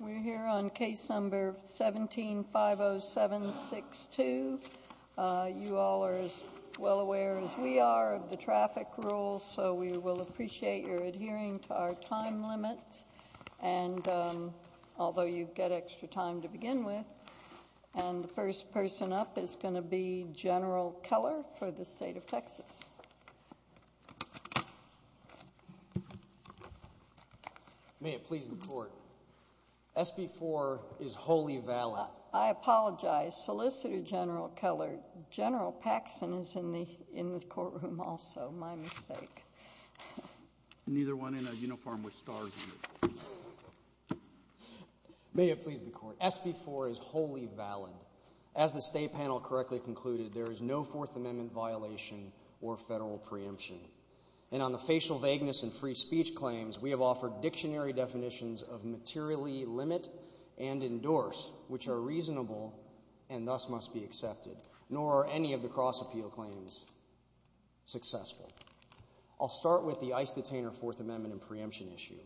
We're here on case number 17-50762. You all are as well aware as we are of the traffic rules, so we will appreciate your adhering to our time limit, although you've got extra time to begin with. And the first person up is going to be General Keller for the State of Texas. May it please the Court, SB-4 is wholly valid. I apologize, Solicitor General Keller. General Paxson is in the courtroom also, my mistake. Neither one in a uniform with stars on it. May it please the Court, SB-4 is wholly valid. As the State panel correctly concluded, there is no Fourth Amendment violation or federal preemption. And on the facial vagueness and free speech claims, we have offered dictionary definitions of materially limit and endorse, which are reasonable and thus must be accepted. Nor are any of the cross-appeal claims successful. I'll start with the ICE detainer Fourth Amendment and preemption issue.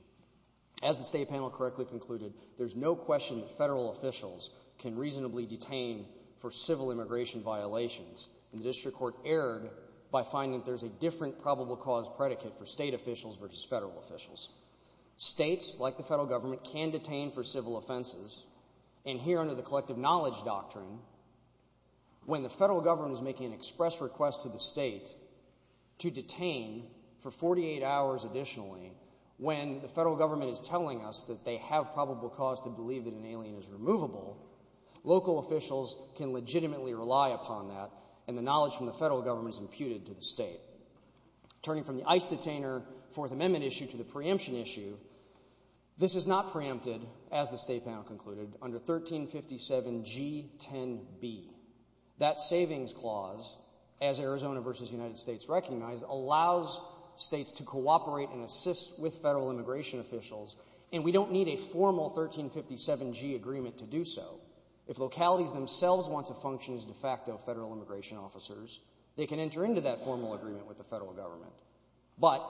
As the State panel correctly concluded, there's no question that federal officials can reasonably detain for civil immigration violations. And District Court erred by finding that there's a different probable cause predicate for state officials versus federal officials. States, like the federal government, can detain for civil offenses. And here under the collective knowledge doctrine, when the federal government is making an express request to the state to detain for 48 hours additionally, when the federal government is telling us that they have probable cause to believe that an alien is removable, local officials can legitimately rely upon that and the knowledge from the federal government is imputed to the state. Turning from the ICE detainer Fourth Amendment issue to the preemption issue, this is not preempted, as the State panel concluded, under 1357G10B. That savings clause, as Arizona versus the United States recognized, allows states to cooperate and assist with federal immigration officials. And we don't need a formal 1357G agreement to do so. If localities themselves want to function as de facto federal immigration officers, they can enter into that formal agreement with the federal government. But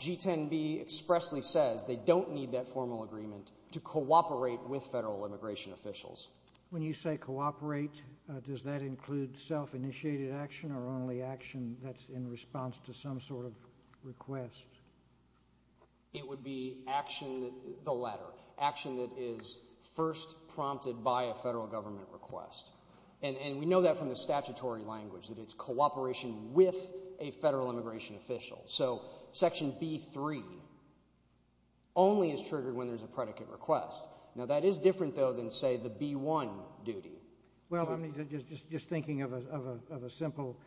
G10B expressly says they don't need that formal agreement to cooperate with federal immigration officials. When you say cooperate, does that include self-initiated action or only action that's in response to some sort of request? It would be action, the latter, action that is first prompted by a federal government request. And we know that from the statutory language, that it's cooperation with a federal immigration official. So Section B.3 only is triggered when there's a predicate request. Now that is different, though, than, say, the B.1 duty. Well, I mean, just thinking of a simple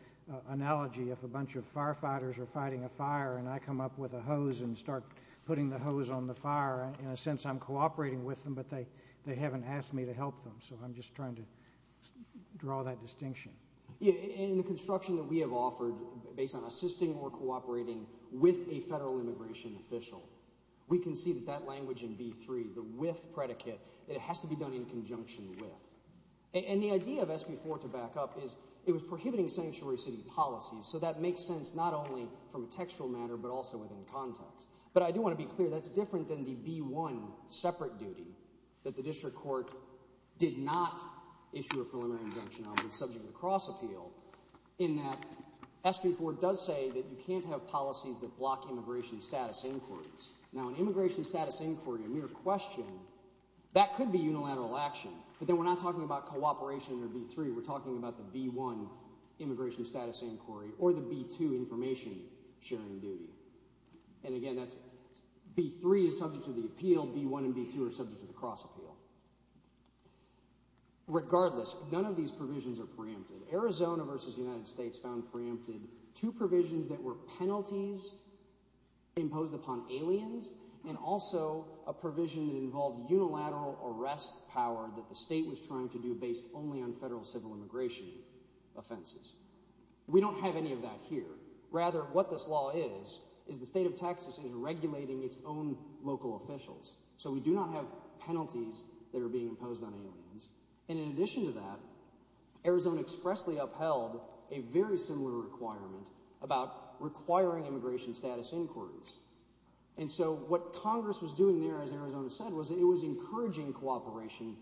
analogy. If a bunch of firefighters are fighting a fire and I come up with a hose and start putting the hose on the fire, in a sense I'm cooperating with them, but they haven't asked me to help them. So I'm just trying to draw that distinction. In the construction that we have offered, based on assisting or cooperating with a federal immigration official, we can see that that language in B.3, the with predicate, it has to be done in conjunction with. And the idea of SB.4 to back up is it was prohibiting sanctuary city policies, so that makes sense not only from a textual matter but also within context. But I do want to be clear, that's different than the B.1 separate duty that the district court did not issue a preliminary injunction on, in that SB.4 does say that you can't have policies that block immigration status inquiries. Now an immigration status inquiry, a mere question, that could be unilateral action. But then we're not talking about cooperation under B.3, we're talking about the B.1 immigration status inquiry, or the B.2 information sharing duty. And again, B.3 is subject to the appeal, B.1 and B.2 are subject to the cross appeal. Regardless, none of these provisions are preempted. Arizona versus the United States found preempted two provisions that were penalties imposed upon aliens, and also a provision that involved unilateral arrest power that the state was trying to do based only on federal civil immigration offenses. We don't have any of that here. Rather, what this law is, is the state of Texas is regulating its own local officials. So we do not have penalties that are being imposed on aliens. And in addition to that, Arizona expressly upheld a very similar requirement about requiring immigration status inquiries. And so what Congress was doing there, as Arizona said, was it was encouraging cooperation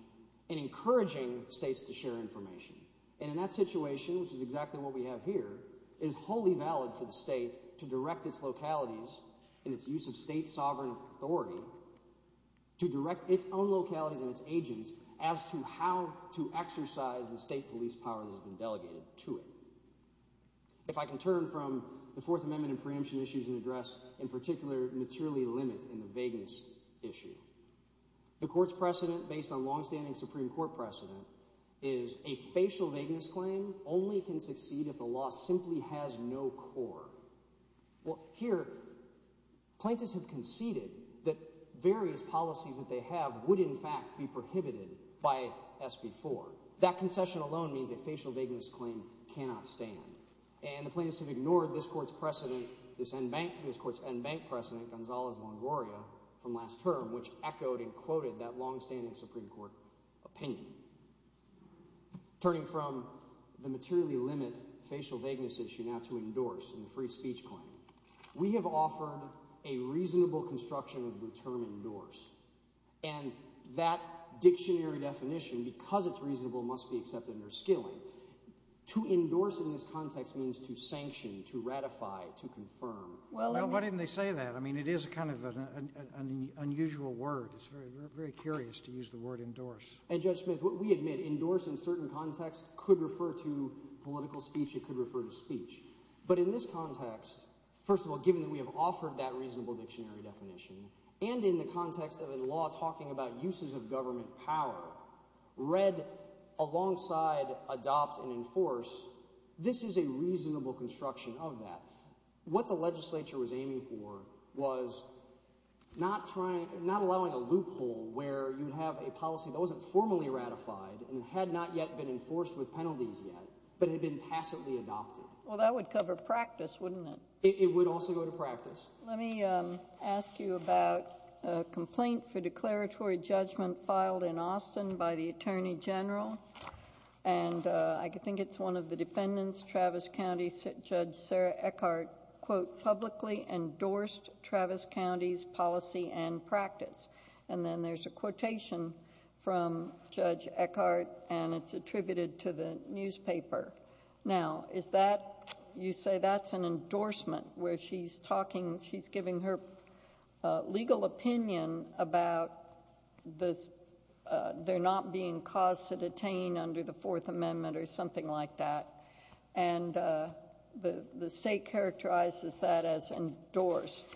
and encouraging states to share information. And in that situation, which is exactly what we have here, is wholly valid for the state to direct its localities and its laws and its use of state sovereign authority to direct its own localities and its agents as to how to exercise the state police power that has been delegated to it. If I can turn from the Fourth Amendment and preemption issues in address, in particular, materially limited in the vagueness issue. The court's precedent, based on longstanding Supreme Court precedent, is a facial vagueness claim only can succeed if the law simply has no core. Well, here, plaintiffs have conceded that various policies that they have would, in fact, be prohibited by SB 4. That concession alone means a facial vagueness claim cannot stand. And the plaintiffs have ignored this court's precedent, this court's unbanked precedent, Gonzalo's Longoria, from last term, which echoed and quoted that longstanding Supreme Court opinion. Turning from the materially limited facial vagueness issue now to endorse in the free speech claim, we have offered a reasonable construction of the term endorsed. And that dictionary definition, because it's reasonable, must be accepted under skilling. To endorse in this context means to sanction, to ratify, to confirm. Well, why didn't they say that? I mean, it is kind of an unusual word. It's very curious to use the word endorse. And Judge Smith, what we admit, endorse in certain contexts could refer to political speech, it could refer to speech. But in this context, first of all, given that we have offered that reasonable dictionary definition, and in the context of the law talking about uses of government power, read alongside adopt and enforce, this is a reasonable construction of that. What the legislature was aiming for was not allowing a loophole where you have a policy that wasn't formally ratified and had not yet been enforced with penalties yet, but had been tacitly adopted. Well, that would cover practice, wouldn't it? It would also go to practice. Let me ask you about a complaint for declaratory judgment filed in Austin by the Attorney General. And I think it's one of the defendants, Travis County Judge Sarah Eckhart, quote, publicly endorsed Travis County's policy and practice. And then there's a quotation from Judge Eckhart, and it's attributed to the newspaper. Now, is that, you say that's an endorsement where she's talking, she's giving her legal opinion about they're not being caused to detain under the Fourth Amendment or something like that, and the state characterizes that as endorsed.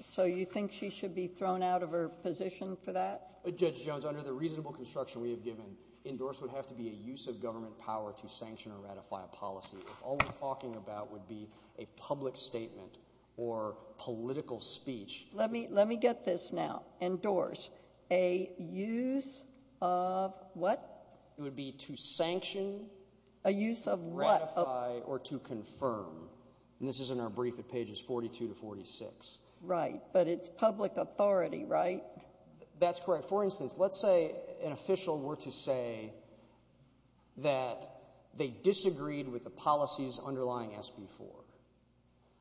So you think she should be thrown out of her position for that? Judge Jones, under the reasonable construction we have given, endorsement would have to be a use of government power to sanction or ratify a policy. All we're talking about would be a public statement or political speech. Let me get this now. Endorse. A use of what? It would be to sanction, ratify, or to confirm. And this is in our brief at pages 42 to 46. Right. But it's public authority, right? That's correct. For instance, let's say an official were to say that they disagreed with the policies underlying SB4.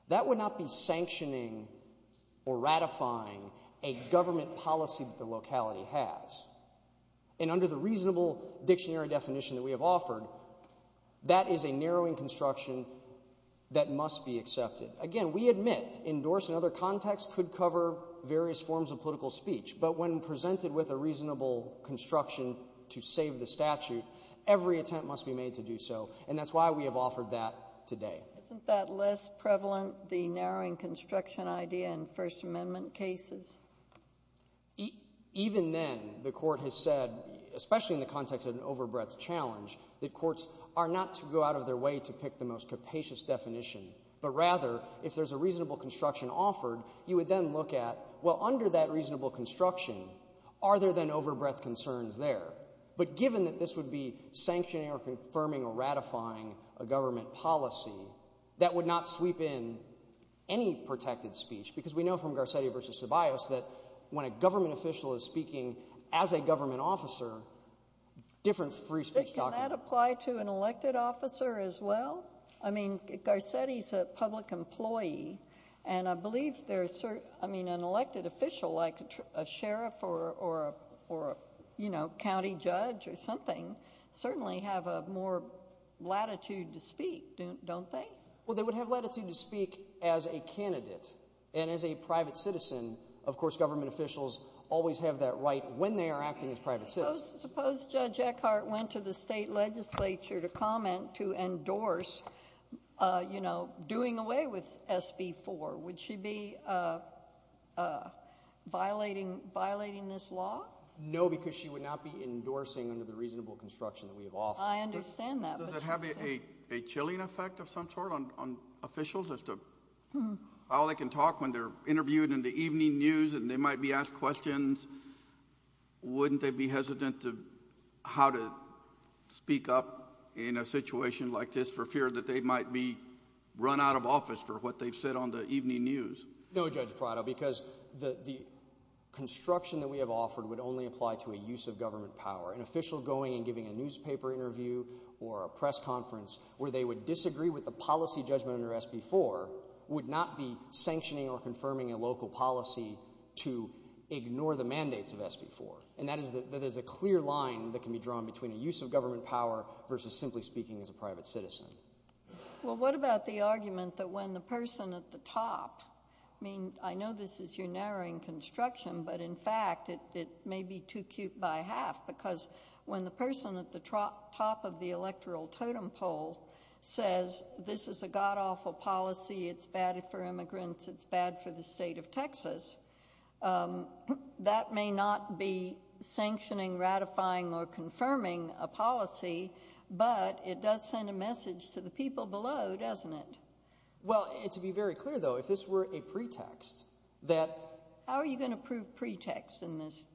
That would not be sanctioning or ratifying a government policy that the locality has. And under the reasonable dictionary definition that we have offered, that is a narrowing construction that must be accepted. Again, we admit endorsement in other contexts could cover various forms of political speech. But when presented with a reasonable construction to save the statute, every attempt must be made to do so. And that's why we have offered that today. Isn't that less prevalent, the narrowing construction idea in First Amendment cases? Even then, the Court has said, especially in the context of an overbreadth challenge, that courts are not to go out of their way to pick the most capacious definition. But rather, if there's a reasonable construction offered, you would then look at, well, under that reasonable construction, are there then overbreadth concerns there? But given that this would be sanctioning or confirming or ratifying a government policy, that would not sweep in any protected speech. Because we know from Garcetti v. Tobias that when a government official is speaking as a government officer, different free speech doctrine. But can that apply to an elected officer as well? I mean, Garcetti's a public employee, and I believe an elected official, like a sheriff or a county judge or something, certainly have more latitude to speak, don't they? Well, they would have latitude to speak as a candidate and as a private citizen. Of course, government officials always have that right when they are acting as private citizens. Suppose Judge Eckhardt went to the state legislature to comment to endorse doing away with SB 4. Would she be violating this law? No, because she would not be endorsing under the reasonable construction that we have offered. I understand that. Does it have a chilling effect of some sort on officials as to how they can talk when they're interviewed in the evening news and they might be asked questions? Wouldn't they be hesitant how to speak up in a situation like this for fear that they might be run out of office for what they've said on the evening news? No, Judge Prado, because the construction that we have offered would only apply to a use of government power. An official going and giving a newspaper interview or a press conference where they would disagree with the policy judgment under SB 4 would not be sanctioning or confirming a local policy to ignore the mandates of SB 4. And that is a clear line that can be drawn between a use of government power versus simply speaking as a private citizen. Well, what about the argument that when the person at the top, I mean, I know this is your narrowing construction, but in fact it may be too cute by half because when the person at the top of the electoral totem pole says this is a god-awful policy, it's bad for immigrants, it's bad for the state of Texas, that may not be sanctioning, ratifying, or confirming a policy, but it does send a message to the people below, doesn't it? Well, to be very clear though, if this were a pretext that... How are you going to prove pretext in this?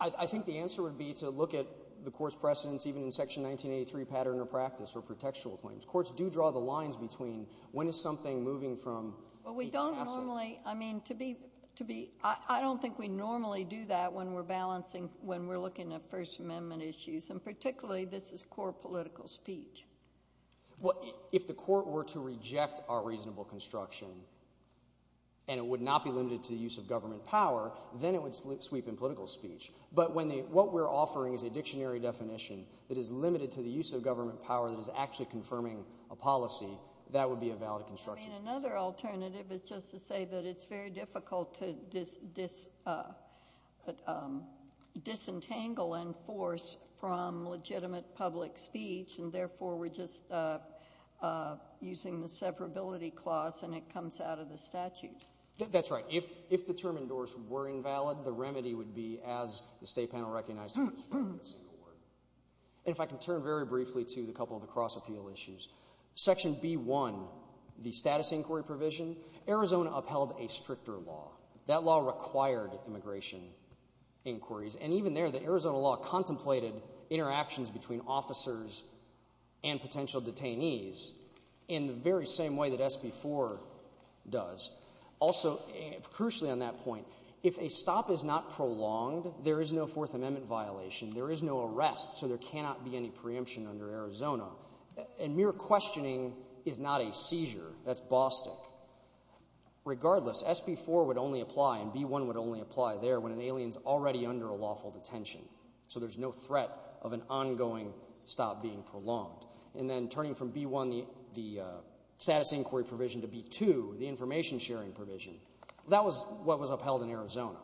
I think the answer would be to look at the court's precedence even in Section 1983 pattern of practice or for textual claims. Courts do draw the lines between when is something moving from... Well, we don't normally, I mean, I don't think we normally do that when we're balancing, when we're looking at First Amendment issues, and particularly this is core political speech. If the court were to reject our reasonable construction and it would not be limited to the use of government power, then it would sweep in political speech. But what we're offering is a dictionary definition that is limited to the use of government power that is actually confirming a policy, that would be a valid construction. I mean, another alternative is just to say that it's very difficult to disentangle in force from legitimate public speech, and therefore we're just using the separability clause and it comes out of the statute. That's right. If the term indoors were invalid, the remedy would be as the State Panel recognizes... In fact, I can turn very briefly to a couple of the cross-appeal issues. Section B-1, the status inquiry provision, Arizona upheld a stricter law. That law required immigration inquiries, and even there the Arizona law contemplated interactions between officers and potential detainees in the very same way that SB 4 does. Also, crucially on that point, if a stop is not prolonged, there is no Fourth Amendment violation, there is no arrest, so there cannot be any preemption under Arizona. And mere questioning is not a seizure. That's Boston. Regardless, SB 4 would only apply and B-1 would only apply there when an alien is already under a lawful detention, so there's no threat of an ongoing stop being prolonged. And then turning from B-1, the status inquiry provision, to B-2, the information sharing provision, that was what was upheld in Arizona.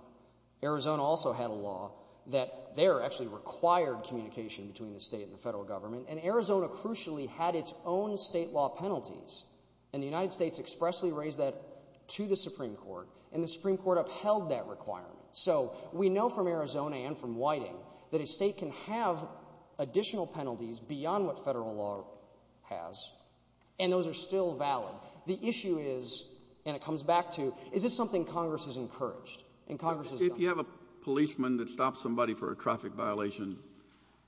Arizona also had a law that there actually required communication between the state and the federal government, and Arizona crucially had its own state law penalties, and the United States expressly raised that to the Supreme Court, and the Supreme Court upheld that requirement. So we know from Arizona and from Whiting that a state can have additional penalties beyond what federal law has, and those are still valid. The issue is, and it comes back to, is this something Congress has encouraged? If you have a policeman that stops somebody for a traffic violation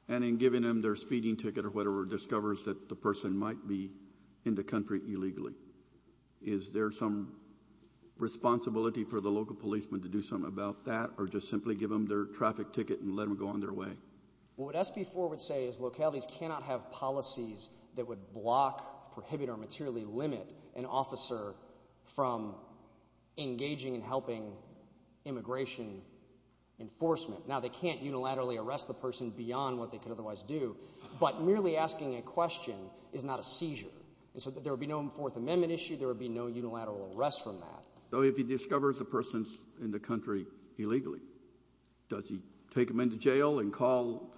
and in giving them their speeding ticket or whatever, discovers that the person might be in the country illegally, is there some responsibility for the local policeman to do something about that or just simply give them their traffic ticket and let them go on their way? What SB 4 would say is localities cannot have policies that would block, prohibit, or materially limit an officer from engaging and helping immigration enforcement. Now, they can't unilaterally arrest the person beyond what they could otherwise do, but merely asking a question is not a seizure, and so there would be no Fourth Amendment issue, there would be no unilateral arrest from that. So if he discovers the person's in the country illegally, does he take them into jail and call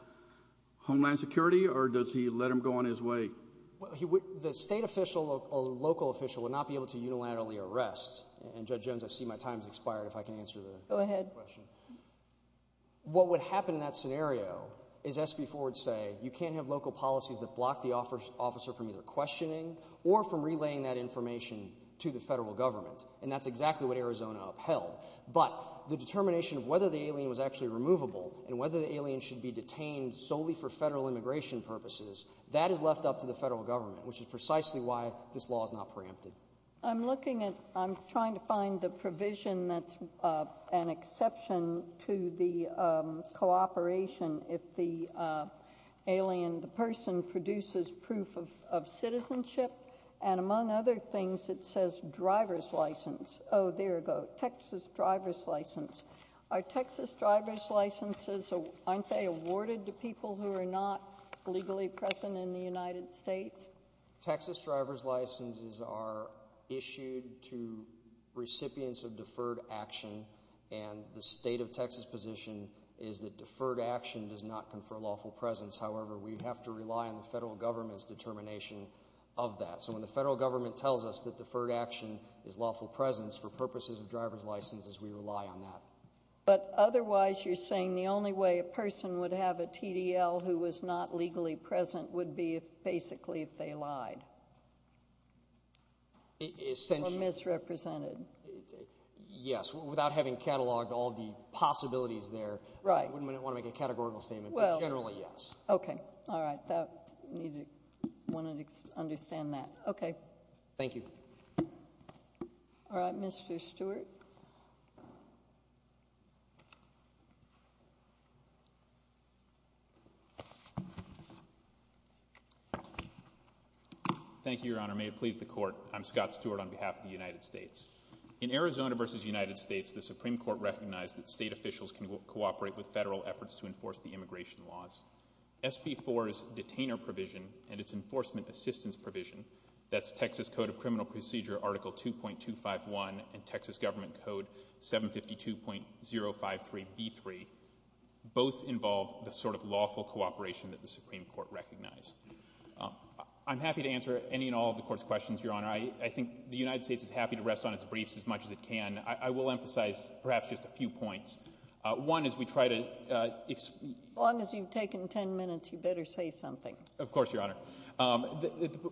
Homeland Security, or does he let them go on his way? The state official or local official would not be able to unilaterally arrest, and Judge Jones, I see my time has expired, if I can answer the question. Go ahead. What would happen in that scenario is SB 4 would say you can't have local policies that block the officer from either questioning or from relaying that information to the federal government, and that's exactly what Arizona upheld. But the determination of whether the alien was actually removable and whether the alien should be detained solely for federal immigration purposes, that is left up to the federal government, which is precisely why this law is not preempted. I'm looking at, I'm trying to find the provision that's an exception to the cooperation if the alien, the person, produces proof of citizenship, and among other things, it says driver's license. Oh, there it goes, Texas driver's license. Are Texas driver's licenses, I'm sorry, awarded to people who are not legally present in the United States? Texas driver's licenses are issued to recipients of deferred action, and the state of Texas position is that deferred action does not confer lawful presence. However, we have to rely on the federal government's determination of that. So when the federal government tells us that deferred action is lawful presence, for purposes of driver's licenses, we rely on that. But otherwise you're saying the only way a person would have a TDL who was not legally present would be basically if they lied? Essentially. Or misrepresented? Yes, without having cataloged all the possibilities there. Right. We wouldn't want to make a categorical statement, but generally, yes. Okay, all right, I wanted to understand that. Okay. Thank you. All right, Mr. Stewart. Thank you, Your Honor. May it please the Court. I'm Scott Stewart on behalf of the United States. In Arizona v. United States, the Supreme Court recognized that state officials can cooperate with federal efforts to enforce the immigration laws. SP4's detainer provision and its enforcement assistance provision, that's Texas Code of Criminal Procedure Article 2.251 and Texas Government Code 752.053b3, both involve the sort of lawful cooperation that the Supreme Court recognized. I'm happy to answer any and all of the Court's questions, Your Honor. I think the United States is happy to rest on its briefs as much as it can. I will emphasize perhaps just a few points. One is we try to As long as you've taken ten minutes, you better say something. Of course, Your Honor.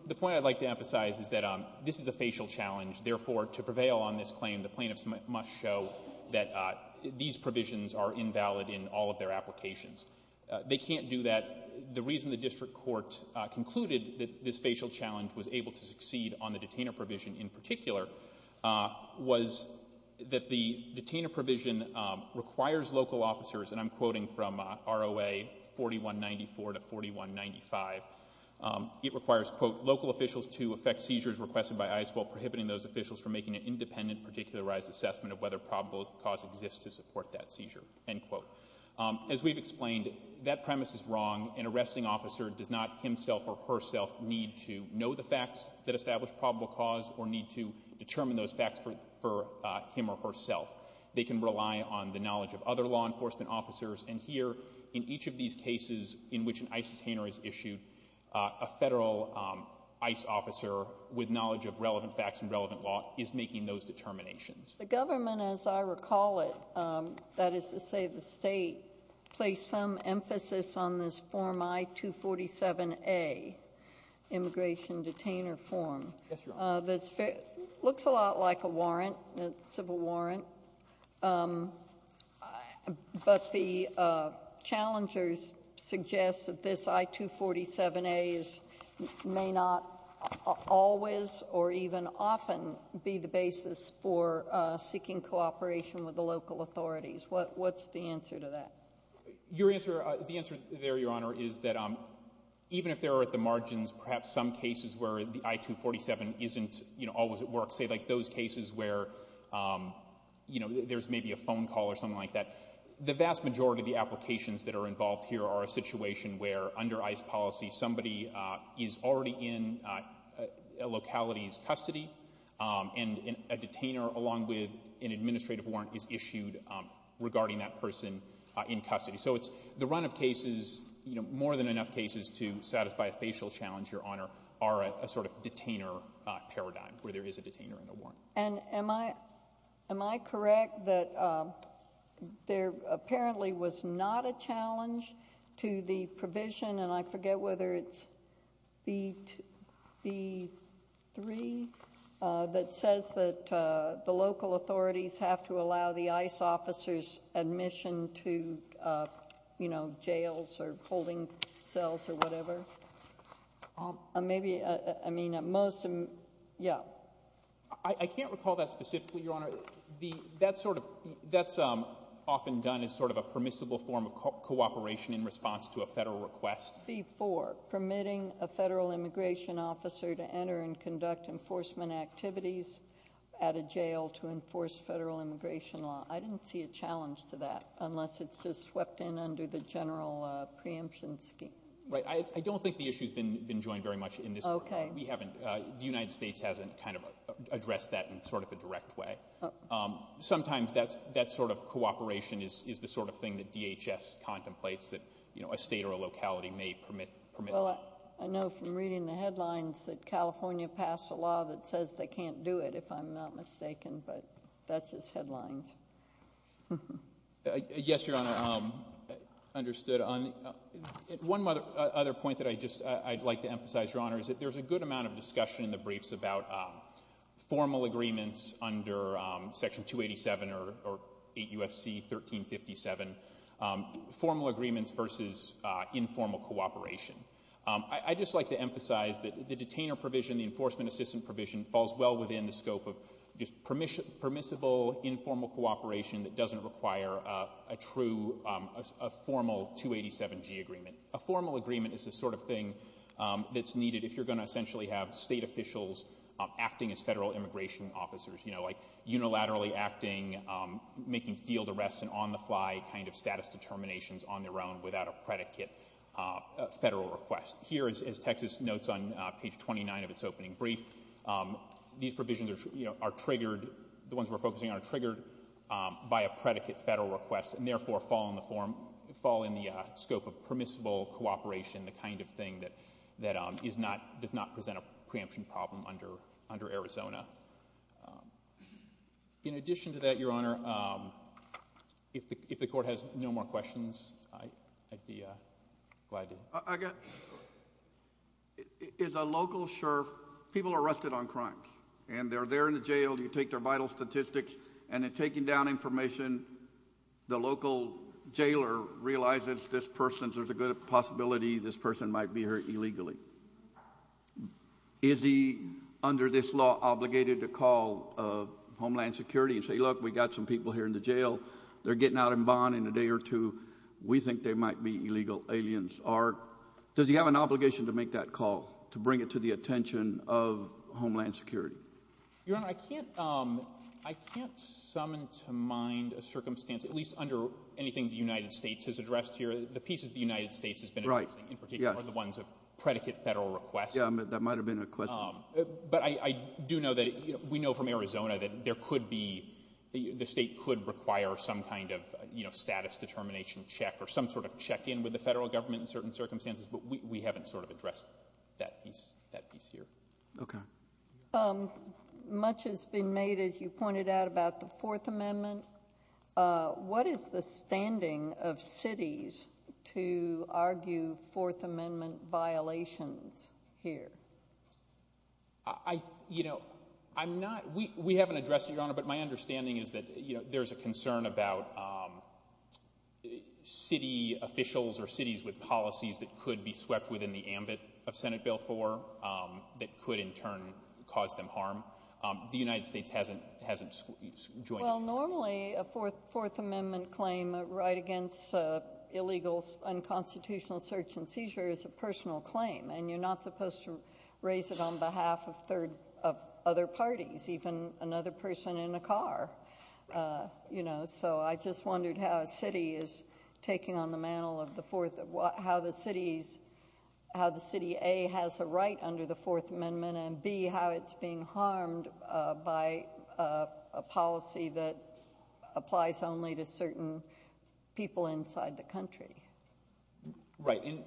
The point I'd like to emphasize is that this is a facial challenge. Therefore, to prevail on this claim, the plaintiffs must show that these provisions are invalid in all of their applications. They can't do that. The reason the district court concluded that this facial challenge was able to succeed on the detainer provision in particular was that the detainer provision requires local officers, and I'm quoting from ROA 4194 to 4195. It requires, quote, to effect seizures requested by ICE while prohibiting those officials from making an independent particularized assessment of whether probable cause exists to support that seizure, end quote. As we've explained, that premise is wrong. An arresting officer does not himself or herself need to know the facts that establish probable cause or need to determine those facts for him or herself. They can rely on the knowledge of other law enforcement officers, and here in each of these cases in which an ICE detainer is issued, a federal ICE officer with knowledge of relevant facts and relevant law is making those determinations. The government, as I recall it, that is to say the state, placed some emphasis on this Form I-247A, Immigration Detainer Form. It looks a lot like a warrant, a civil warrant, but the challengers suggest that this I-247A may not always or even often be the basis for seeking cooperation with the local authorities. What's the answer to that? The answer there, Your Honor, is that even if they're at the margins, perhaps some cases where the I-247 isn't always at work, say like those cases where there's maybe a phone call or something like that, the vast majority of the applications that are involved here are a situation where under ICE policy somebody is already in a locality's custody and a detainer along with an administrative warrant is issued regarding that person in custody. So the run-up cases, more than enough cases to satisfy a facial challenge, Your Honor, are a sort of detainer paradigm where there is a detainer and a warrant. Am I correct that there apparently was not a challenge to the provision, and I forget whether it's B-3, that says that the local authorities have to allow the ICE officers admission to jails or holding cells or whatever? Maybe, I mean, at most, yeah. I can't recall that specifically, Your Honor. That's often done as sort of a permissible form of cooperation in response to a federal request. C-4, permitting a federal immigration officer to enter and conduct enforcement activities at a jail to enforce federal immigration law. I didn't see a challenge to that unless it's just swept in under the general preemption scheme. I don't think the issue has been joined very much in this. We haven't. The United States hasn't kind of addressed that in sort of a direct way. Sometimes that sort of cooperation is the sort of thing that DHS contemplates that a state or a locality may permit. Well, I know from reading the headlines that California passed a law that says they can't do it, if I'm not mistaken, but that's its headlines. Yes, Your Honor, understood. One other point that I'd like to emphasize, Your Honor, is that there's a good amount of discussion in the briefs about formal agreements under Section 287 or 8 U.S.C. 1357, formal agreements versus informal cooperation. I'd just like to emphasize that the detainer provision, the enforcement assistant provision, falls well within the scope of just permissible informal cooperation that doesn't require a formal 287G agreement. A formal agreement is the sort of thing that's needed if you're going to essentially have state officials acting as federal immigration officers, you know, like unilaterally acting, making field arrests and on-the-fly kind of status determinations on their own without a predicate federal request. Here, as Texas notes on page 29 of its opening brief, these provisions are triggered. The ones we're focusing on are triggered by a predicate federal request, and therefore fall in the scope of permissible cooperation, the kind of thing that does not present a preemption problem under Arizona. In addition to that, Your Honor, if the Court has no more questions, I'd be glad to. I guess, is a local sheriff, people are arrested on crimes, and they're there in the jail, you take their vital statistics, and in taking down information, the local jailer realizes this person, there's a good possibility this person might be here illegally. Is he, under this law, obligated to call Homeland Security and say, look, we've got some people here in the jail, they're getting out in bond in a day or two, we think they might be illegal aliens, or does he have an obligation to make that call, to bring it to the attention of Homeland Security? Your Honor, I can't summon to mind a circumstance, at least under anything the United States has addressed here. The pieces the United States has been addressing in particular are the ones of predicate federal requests. Yeah, that might have been a question. But I do know that we know from Arizona that there could be, the state could require some kind of status determination check or some sort of check-in with the federal government in certain circumstances, but we haven't sort of addressed that piece here. Okay. Much has been made, as you pointed out, about the Fourth Amendment. What is the standing of cities to argue Fourth Amendment violations here? I, you know, I'm not, we haven't addressed it, Your Honor, but my understanding is that there's a concern about city officials or cities with policies that could be swept within the ambit of Senate Bill 4 that could in turn cause them harm. The United States hasn't joined. Well, normally a Fourth Amendment claim, a right against illegal unconstitutional search and seizure is a personal claim, and you're not supposed to raise it on behalf of third, of other parties, even another person in a car, you know. So I just wondered how a city is taking on the mantle of the Fourth, how the city A, has a right under the Fourth Amendment, and B, how it's being harmed by a policy that applies only to certain people inside the country. Right, and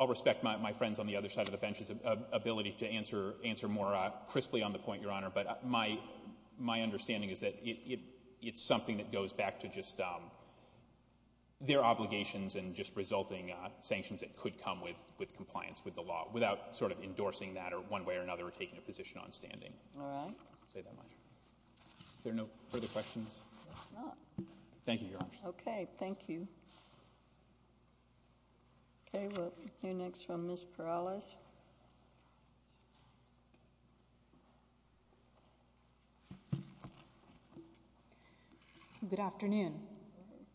I'll respect my friends on the other side of the bench's ability but my understanding is that it's something that goes back to just their obligations and just resulting sanctions that could come with compliance with the law without sort of endorsing that one way or another or taking a position on standing. All right. I'll say that much. Are there no further questions? No. Thank you, Your Honor. Okay, thank you. Okay, we'll hear next from Ms. Perales. Good afternoon.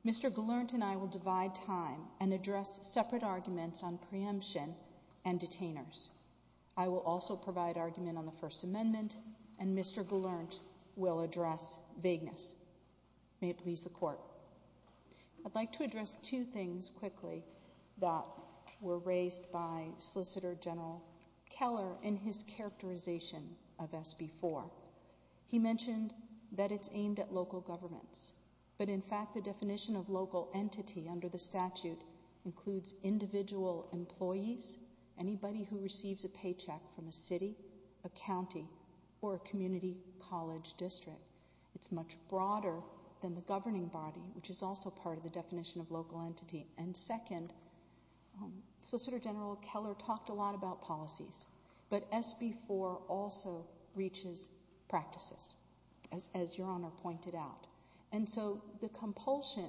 Mr. Valernt and I will divide time and address separate arguments on preemption and detainers. I will also provide argument on the First Amendment, and Mr. Valernt will address vagueness. May it please the Court. I'd like to address two things quickly that were raised by Solicitor General Keller in his characterization of SB 4. He mentioned that it's aimed at local governments, but in fact the definition of local entity under the statute includes individual employees, anybody who receives a paycheck from a city, a county, or a community college district. It's much broader than the governing body, which is also part of the definition of local entity. And second, Solicitor General Keller talked a lot about policies, but SB 4 also reaches practices, as Your Honor pointed out. And so the compulsion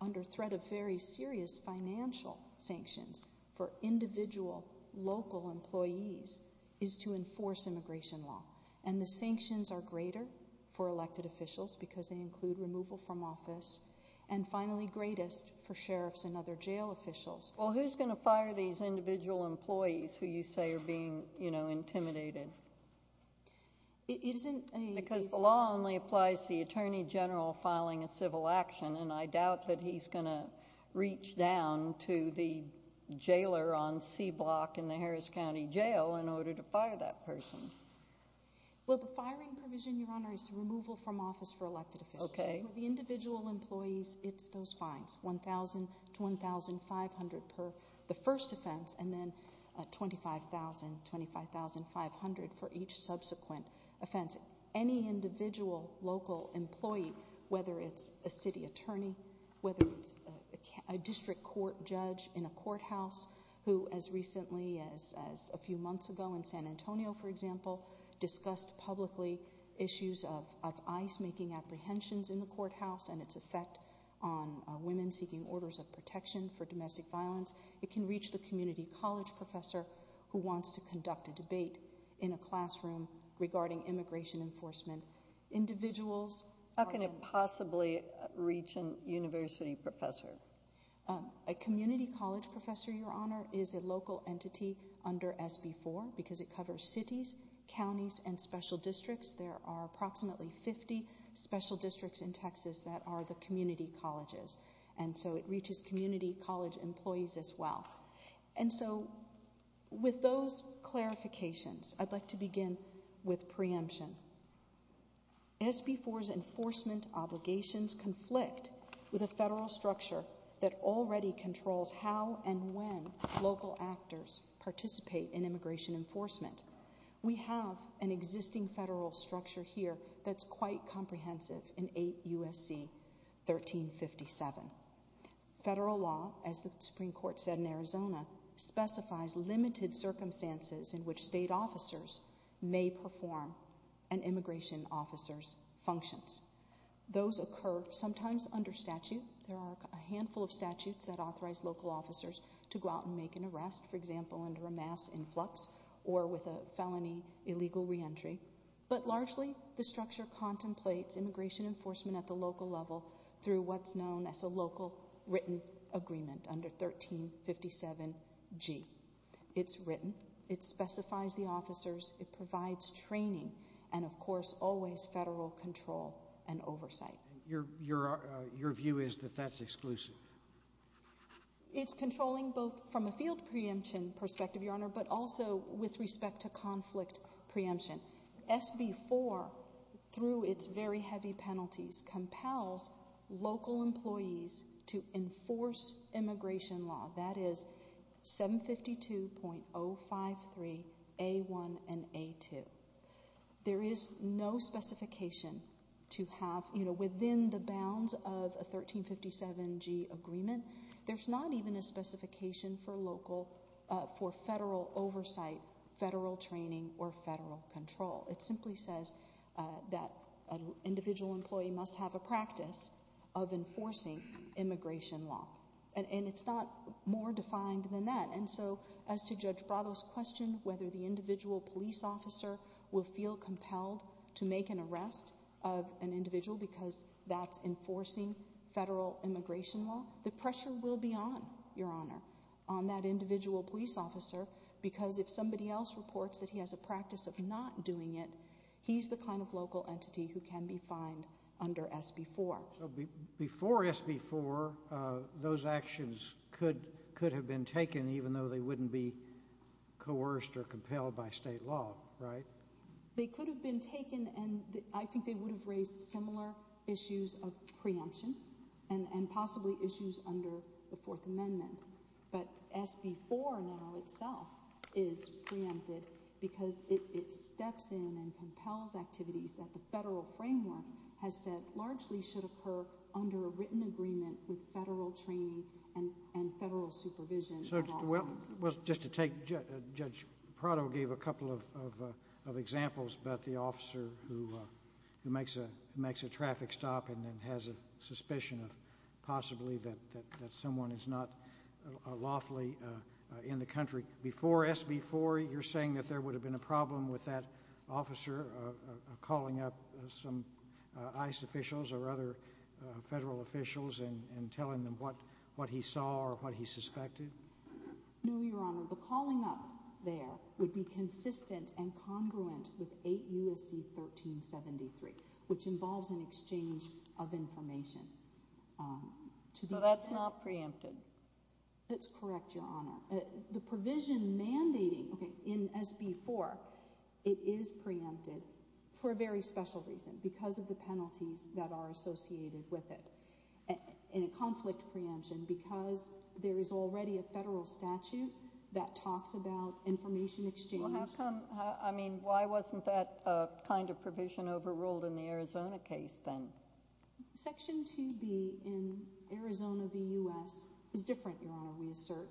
under threat of very serious financial sanctions for individual local employees is to enforce immigration law. And the sanctions are greater for elected officials because they include removal from office, and finally greatest for sheriffs and other jail officials. Well, who's going to fire these individual employees who you say are being, you know, intimidated? Because the law only applies to the Attorney General filing a civil action, and I doubt that he's going to reach down to the jailer on C Block in the Harris County Jail in order to fire that person. Well, the firing provision, Your Honor, is removal from office for elected officials. Okay. The individual employees, it's those fines, $1,000 to $1,500 per the first offense, and then $25,000, $25,500 for each subsequent offense. Any individual local employee, whether it's a city attorney, whether it's a district court judge in a courthouse, who as recently as a few months ago in San Antonio, for example, discussed publicly issues of ice-making apprehensions in the courthouse and its effect on women seeking orders of protection for domestic violence, it can reach the community college professor who wants to conduct a debate in a classroom regarding immigration enforcement. Individuals... How can it possibly reach a university professor? A community college professor, Your Honor, is a local entity under SB 4 because it covers cities, counties, and special districts. There are approximately 50 special districts in Texas that are the community colleges, and so it reaches community college employees as well. And so with those clarifications, I'd like to begin with preemption. SB 4's enforcement obligations conflict with a federal structure that already controls how and when local actors participate in immigration enforcement. We have an existing federal structure here that's quite comprehensive in 8 U.S.C. 1357. Federal law, as the Supreme Court said in Arizona, specifies limited circumstances in which state officers may perform an immigration officer's functions. Those occur sometimes under statute. There are a handful of statutes that authorize local officers to go out and make an arrest, for example, under a mass influx or with a felony illegal reentry. But largely, the structure contemplates immigration enforcement at the local level through what's known as a local written agreement under 1357G. It's written. It specifies the officers. It provides training and, of course, always federal control and oversight. Your view is that that's exclusive? It's controlling both from a field preemption perspective, Your Honor, but also with respect to conflict preemption. SB 4, through its very heavy penalties, compels local employees to enforce immigration law. That is 752.053A1 and A2. There is no specification to have within the bounds of a 1357G agreement. There's not even a specification for local, for federal oversight, federal training, or federal control. It simply says that an individual employee must have a practice of enforcing immigration law. And it's not more defined than that. And so as to Judge Bravo's question, whether the individual police officer will feel compelled to make an arrest of an individual because that's enforcing federal immigration law, the pressure will be on, Your Honor, on that individual police officer because if somebody else reports that he has a practice of not doing it, he's the kind of local entity who can be fined under SB 4. So before SB 4, those actions could have been taken, even though they wouldn't be coerced or compelled by state law, right? They could have been taken, and I think they would have raised similar issues of preemption and possibly issues under the Fourth Amendment. But SB 4 now itself is preemptive because it steps in and compels activities that the federal framework has said largely should occur under a written agreement with federal training and federal supervision. Well, just to take Judge Prado gave a couple of examples about the officer who makes a traffic stop and then has a suspicion of possibly that someone is not lawfully in the country. Before SB 4, you're saying that there would have been a problem with that officer calling up some ICE officials or other federal officials and telling them what he saw or what he suspected? No, Your Honor. The calling up there would be consistent and congruent with 8 U.S.C. 1373, which involves an exchange of information. So that's not preempted? That's correct, Your Honor. The provision may be in SB 4. It is preempted for a very special reason, because of the penalties that are associated with it. And a conflict preemption because there is already a federal statute that talks about information exchange. Why wasn't that kind of provision overruled in the Arizona case then? Section 2B in Arizona v. U.S. is different, Your Honor, we assert,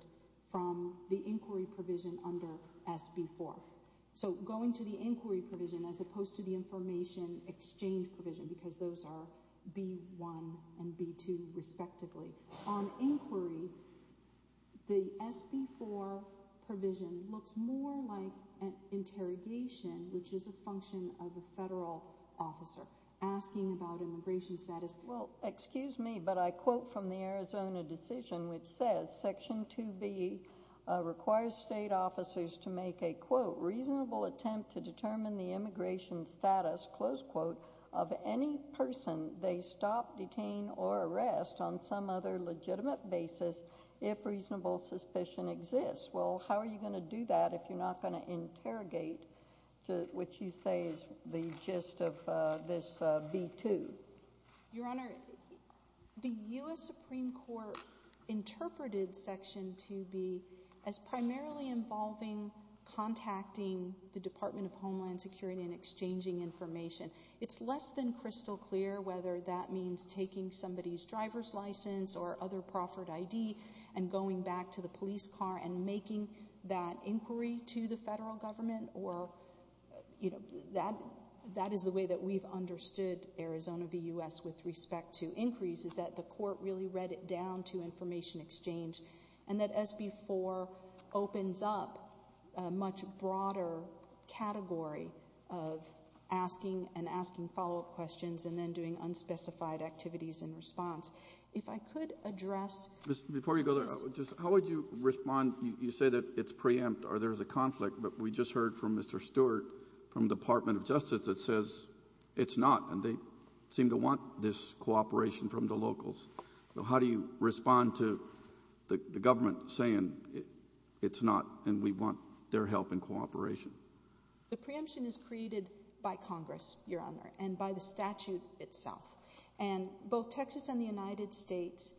from the inquiry provision under SB 4. So going to the inquiry provision as opposed to the information exchange provision because those are B1 and B2 respectively. On inquiry, the SB 4 provision looks more like an interrogation, which is a function of a federal officer asking about immigration status. Well, excuse me, but I quote from the Arizona decision, which says, Section 2B requires state officers to make a, quote, reasonable attempt to determine the immigration status, close quote, of any person they stop, detain, or arrest on some other legitimate basis if reasonable suspicion exists. Well, how are you going to do that if you're not going to interrogate, which you say is the gist of this B2? Your Honor, the U.S. Supreme Court interpreted Section 2B as primarily involving contacting the Department of Homeland Security and exchanging information. It's less than crystal clear whether that means taking somebody's driver's license or other proffered ID and going back to the police car and making that inquiry to the federal government, or that is the way that we've understood Arizona v. U.S. with respect to inquiries, is that the court really read it down to information exchange and that SB 4 opens up a much broader category of asking and asking follow-up questions and then doing unspecified activities in response. If I could address... Before you go there, how would you respond? You say that it's preempt or there's a conflict, but we just heard from Mr. Stewart from the Department of Justice that says it's not, and they seem to want this cooperation from the locals. So how do you respond to the government saying it's not and we want their help and cooperation? The preemption is created by Congress, Your Honor, and by the statute itself. And both Texas and the United States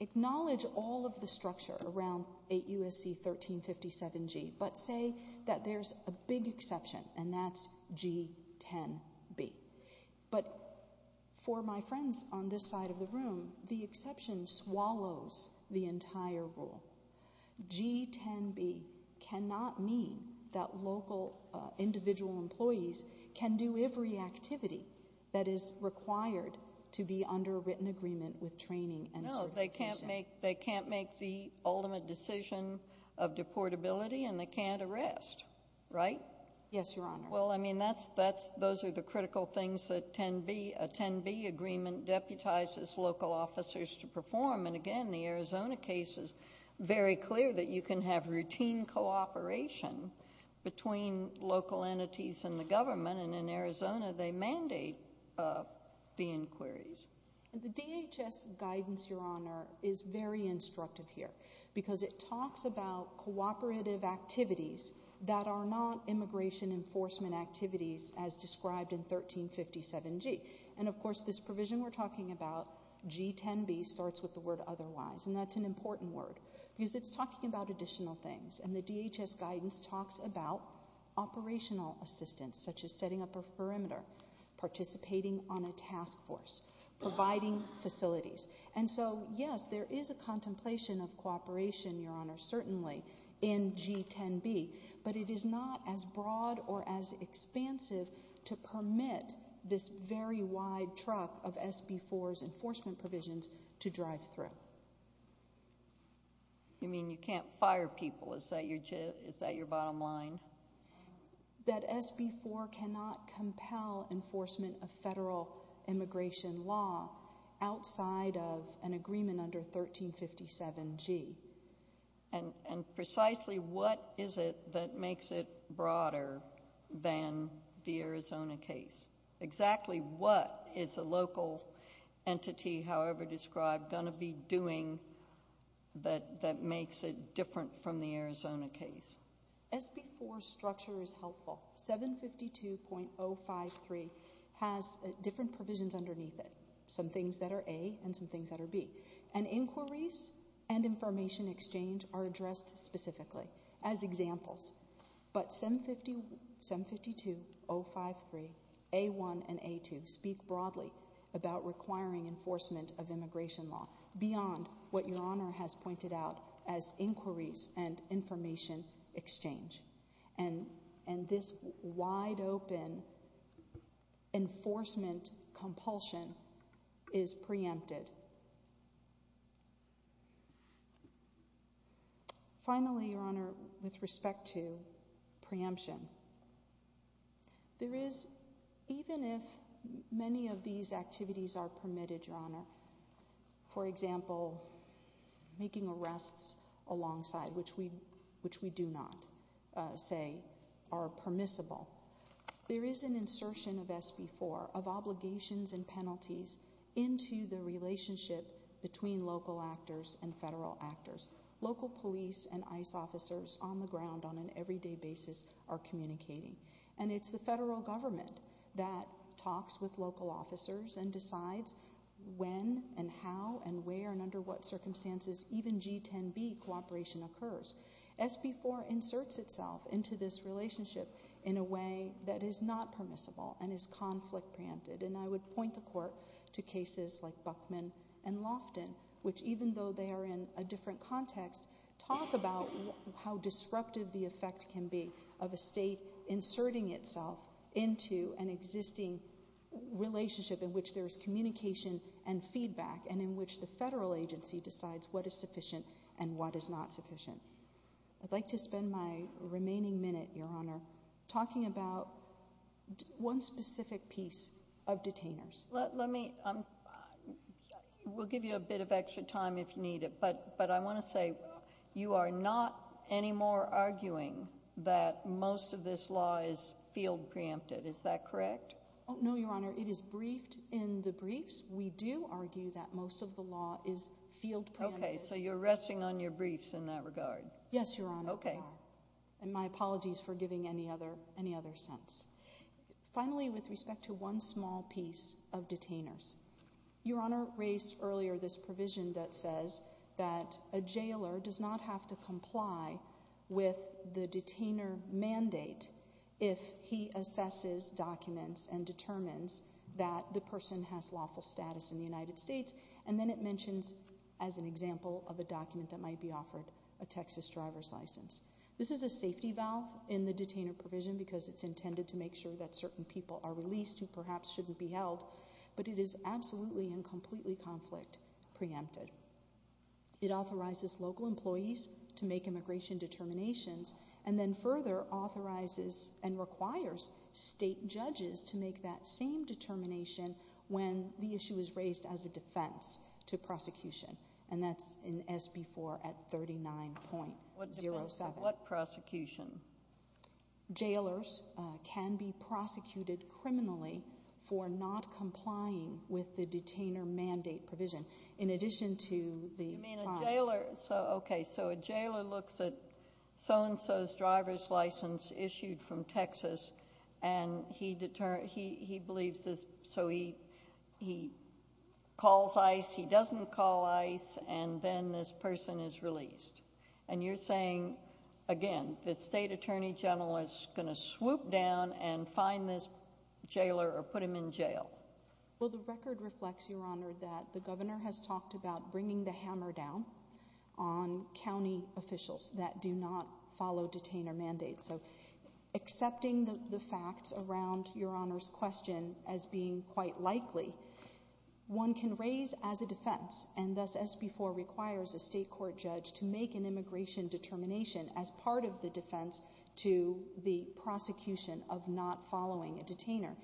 acknowledge all of the structure around 8 U.S.C. 1357G, but say that there's a big exception, and that's G10B. But for my friends on this side of the room, the exception swallows the entire rule. G10B cannot mean that local individual employees can do every activity that is required to be under written agreement with training and certification. No, they can't make the ultimate decision of deportability, and they can't arrest, right? Yes, Your Honor. Well, I mean, those are the critical things that a 10B agreement deputizes local officers to perform. And again, the Arizona case is very clear that you can have routine cooperation between local entities and the government, and in Arizona they mandate the inquiries. The DHS guidance, Your Honor, is very instructive here because it talks about cooperative activities that are not immigration enforcement activities as described in 1357G. And, of course, this provision we're talking about, G10B, starts with the word otherwise, and that's an important word because it's talking about additional things. And the DHS guidance talks about operational assistance, such as setting up a perimeter, participating on a task force, providing facilities. And so, yes, there is a contemplation of cooperation, Your Honor, certainly, in G10B, but it is not as broad or as expansive to permit this very wide truck of SB4's enforcement provisions to drive through. You mean you can't fire people? Is that your bottom line? That SB4 cannot compel enforcement of federal immigration law outside of an agreement under 1357G. And precisely what is it that makes it broader than the Arizona case? Exactly what is a local entity, however described, going to be doing that makes it different from the Arizona case? SB4's structure is helpful. 752.053 has different provisions underneath it, some things that are A and some things that are B. And inquiries and information exchange are addressed specifically as examples. But 752.053A1 and A2 speak broadly about requiring enforcement of immigration law beyond what Your Honor has pointed out as inquiries and information exchange. And this wide-open enforcement compulsion is preempted. Finally, Your Honor, with respect to preemption, even if many of these activities are permitted, Your Honor, for example, making arrests alongside, which we do not say are permissible, there is an insertion of SB4, of obligations and penalties, into the relationship between local actors and federal actors. Local police and ICE officers on the ground on an everyday basis are communicating. And it's the federal government that talks with local officers and decides when and how and where and under what circumstances even G10B cooperation occurs. SB4 inserts itself into this relationship in a way that is not permissible and is conflict preempted. And I would point the Court to cases like Buckman and Lofton, which even though they are in a different context, talk about how disruptive the effect can be of a state inserting itself into an existing relationship in which there is communication and feedback and in which the federal agency decides what is sufficient and what is not sufficient. I'd like to spend my remaining minute, Your Honor, talking about one specific piece of detainers. Let me, we'll give you a bit of extra time if you need it, but I want to say you are not anymore arguing that most of this law is field preempted. Is that correct? No, Your Honor. It is briefed in the briefs. We do argue that most of the law is field preempted. Okay. So you're rushing on your briefs in that regard. Yes, Your Honor. Okay. And my apologies for giving any other sense. Finally, with respect to one small piece of detainers, Your Honor raised earlier this provision that says that a jailer does not have to comply with the detainer mandate if he assesses documents and determines that the person has lawful status in the United States, and then it mentions as an example of a document that might be offered a Texas driver's license. This is a safety valve in the detainer provision because it's intended to make sure that certain people are released who perhaps shouldn't be held, but it is absolutely and completely conflict preempted. It authorizes local employees to make immigration determinations and then further authorizes and requires state judges to make that same determination when the issue is raised as a defense to prosecution, and that's in SB 4 at 39.07. What prosecution? Jailers can be prosecuted criminally for not complying with the detainer mandate provision. In addition to the— I mean, a jailer—okay, so a jailer looks at so-and-so's driver's license issued from Texas, and he believes this, so he calls ICE, he doesn't call ICE, and then this person is released. And you're saying, again, the state attorney general is going to swoop down and find this jailer or put him in jail. Well, the record reflects, Your Honor, that the governor has talked about bringing the hammer down on county officials that do not follow detainer mandates. So accepting the facts around Your Honor's question as being quite likely, one can raise as a defense, and thus SB 4 requires a state court judge to make an immigration determination as part of the defense to the prosecution of not following a detainer.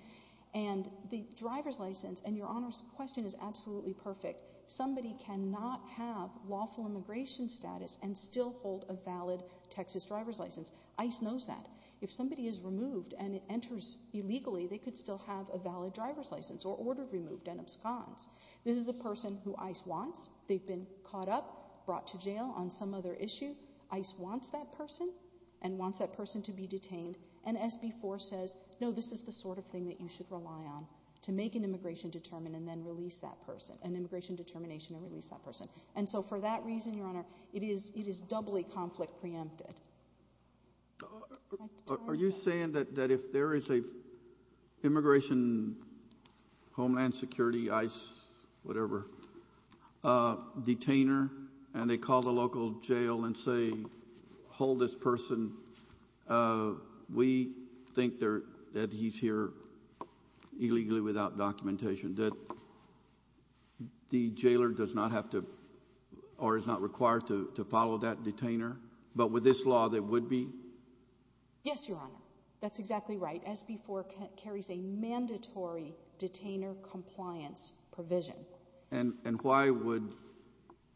And the driver's license, and Your Honor's question is absolutely perfect, somebody cannot have lawful immigration status and still hold a valid Texas driver's license. ICE knows that. If somebody is removed and enters illegally, they could still have a valid driver's license or order removed and absconced. This is a person who ICE wants. They've been caught up, brought to jail on some other issue. ICE wants that person and wants that person to be detained, and SB 4 says, no, this is the sort of thing that you should rely on to make an immigration determination and then release that person, an immigration determination and release that person. And so for that reason, Your Honor, it is doubly conflict preempted. Are you saying that if there is an immigration homeland security, ICE, whatever, detainer, and they call the local jail and say, hold this person, we think that he's here illegally without documentation, that the jailer does not have to or is not required to follow that detainer? But with this law, there would be? Yes, Your Honor. That's exactly right. SB 4 carries a mandatory detainer compliance provision. And why would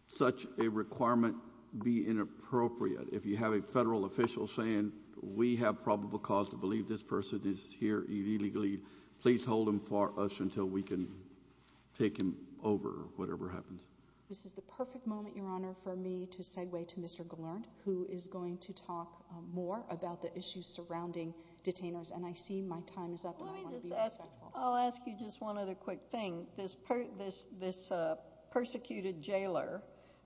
such a requirement be inappropriate if you have a federal official saying, we have probable cause to believe this person is here illegally. Please hold him for us until we can take him over, whatever happens. This is the perfect moment, Your Honor, for me to segue to Mr. Gallant, who is going to talk more about the issues surrounding detainers. And I see my time is up. I'll ask you just one other quick thing. This persecuted jailer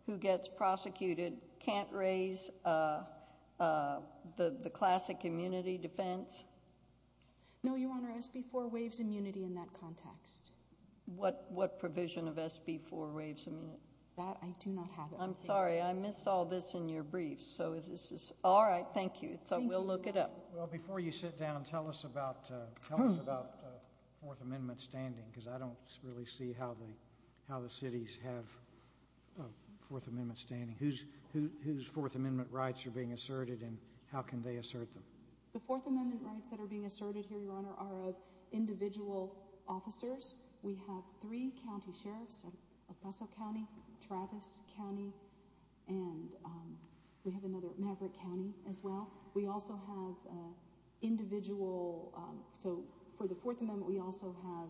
who gets prosecuted can't raise the classic immunity defense? No, Your Honor, SB 4 waives immunity in that context. What provision of SB 4 waives immunity? That I do not have. I'm sorry, I missed all this in your brief. All right, thank you. So we'll look it up. Well, before you sit down, tell us about Fourth Amendment standing, because I don't really see how the cities have Fourth Amendment standing. Whose Fourth Amendment rights are being asserted and how can they assert them? The Fourth Amendment rights that are being asserted here, Your Honor, are of individual officers. We have three county sheriffs in El Paso County, Travis County, and we have another in Maverick County as well. We also have individual, so for the Fourth Amendment, we also have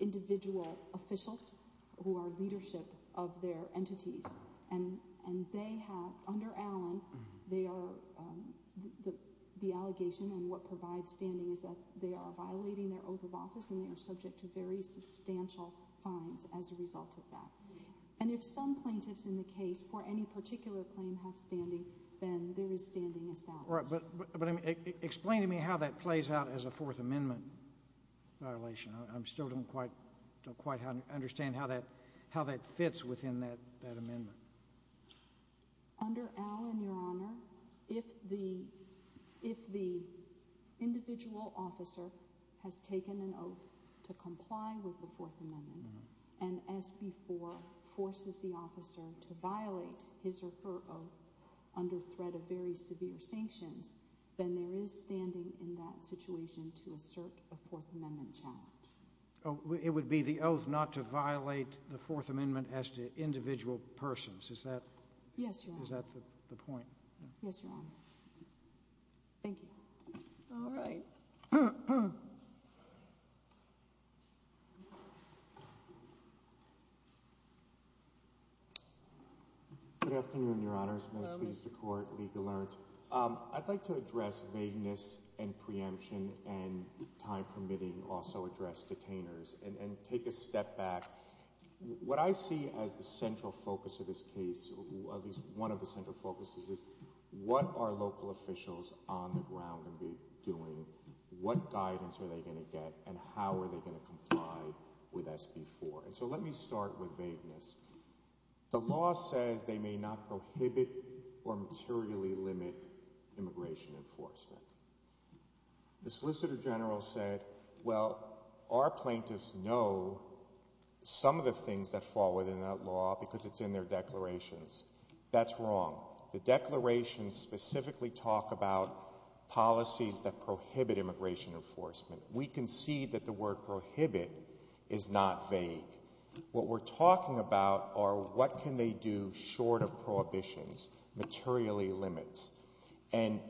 individual officials who are leadership of their entities. And they have, under Allen, the allegation and what provides standing is that they are violating their oath of office and they are subject to very substantial fines as a result of that. And if some plaintiffs in the case for any particular claim have standing, then their standing is valid. But explain to me how that plays out as a Fourth Amendment violation. I still don't quite understand how that fits within that amendment. Under Allen, Your Honor, if the individual officer has taken an oath to comply with the Fourth Amendment and, as before, forces the officer to violate his or her oath under threat of very severe sanctions, then there is standing in that situation to assert a Fourth Amendment challenge. It would be the oath not to violate the Fourth Amendment as to individual persons. Is that the point? Yes, Your Honor. Thank you. All right. Good afternoon, Your Honors. May it please the Court. I'd like to address vagueness and preemption and time permitting and also address detainers and take a step back. What I see as the central focus of this case, at least one of the central focuses, is what are local officials on the ground going to be doing, what guidance are they going to get, and how are they going to comply with SB 4? So let me start with vagueness. The law says they may not prohibit or materially limit immigration enforcement. The Solicitor General said, well, our plaintiffs know some of the things that fall within that law because it's in their declarations. That's wrong. The declarations specifically talk about policies that prohibit immigration enforcement. We concede that the word prohibit is not vague. What we're talking about are what can they do short of prohibitions, materially limit. And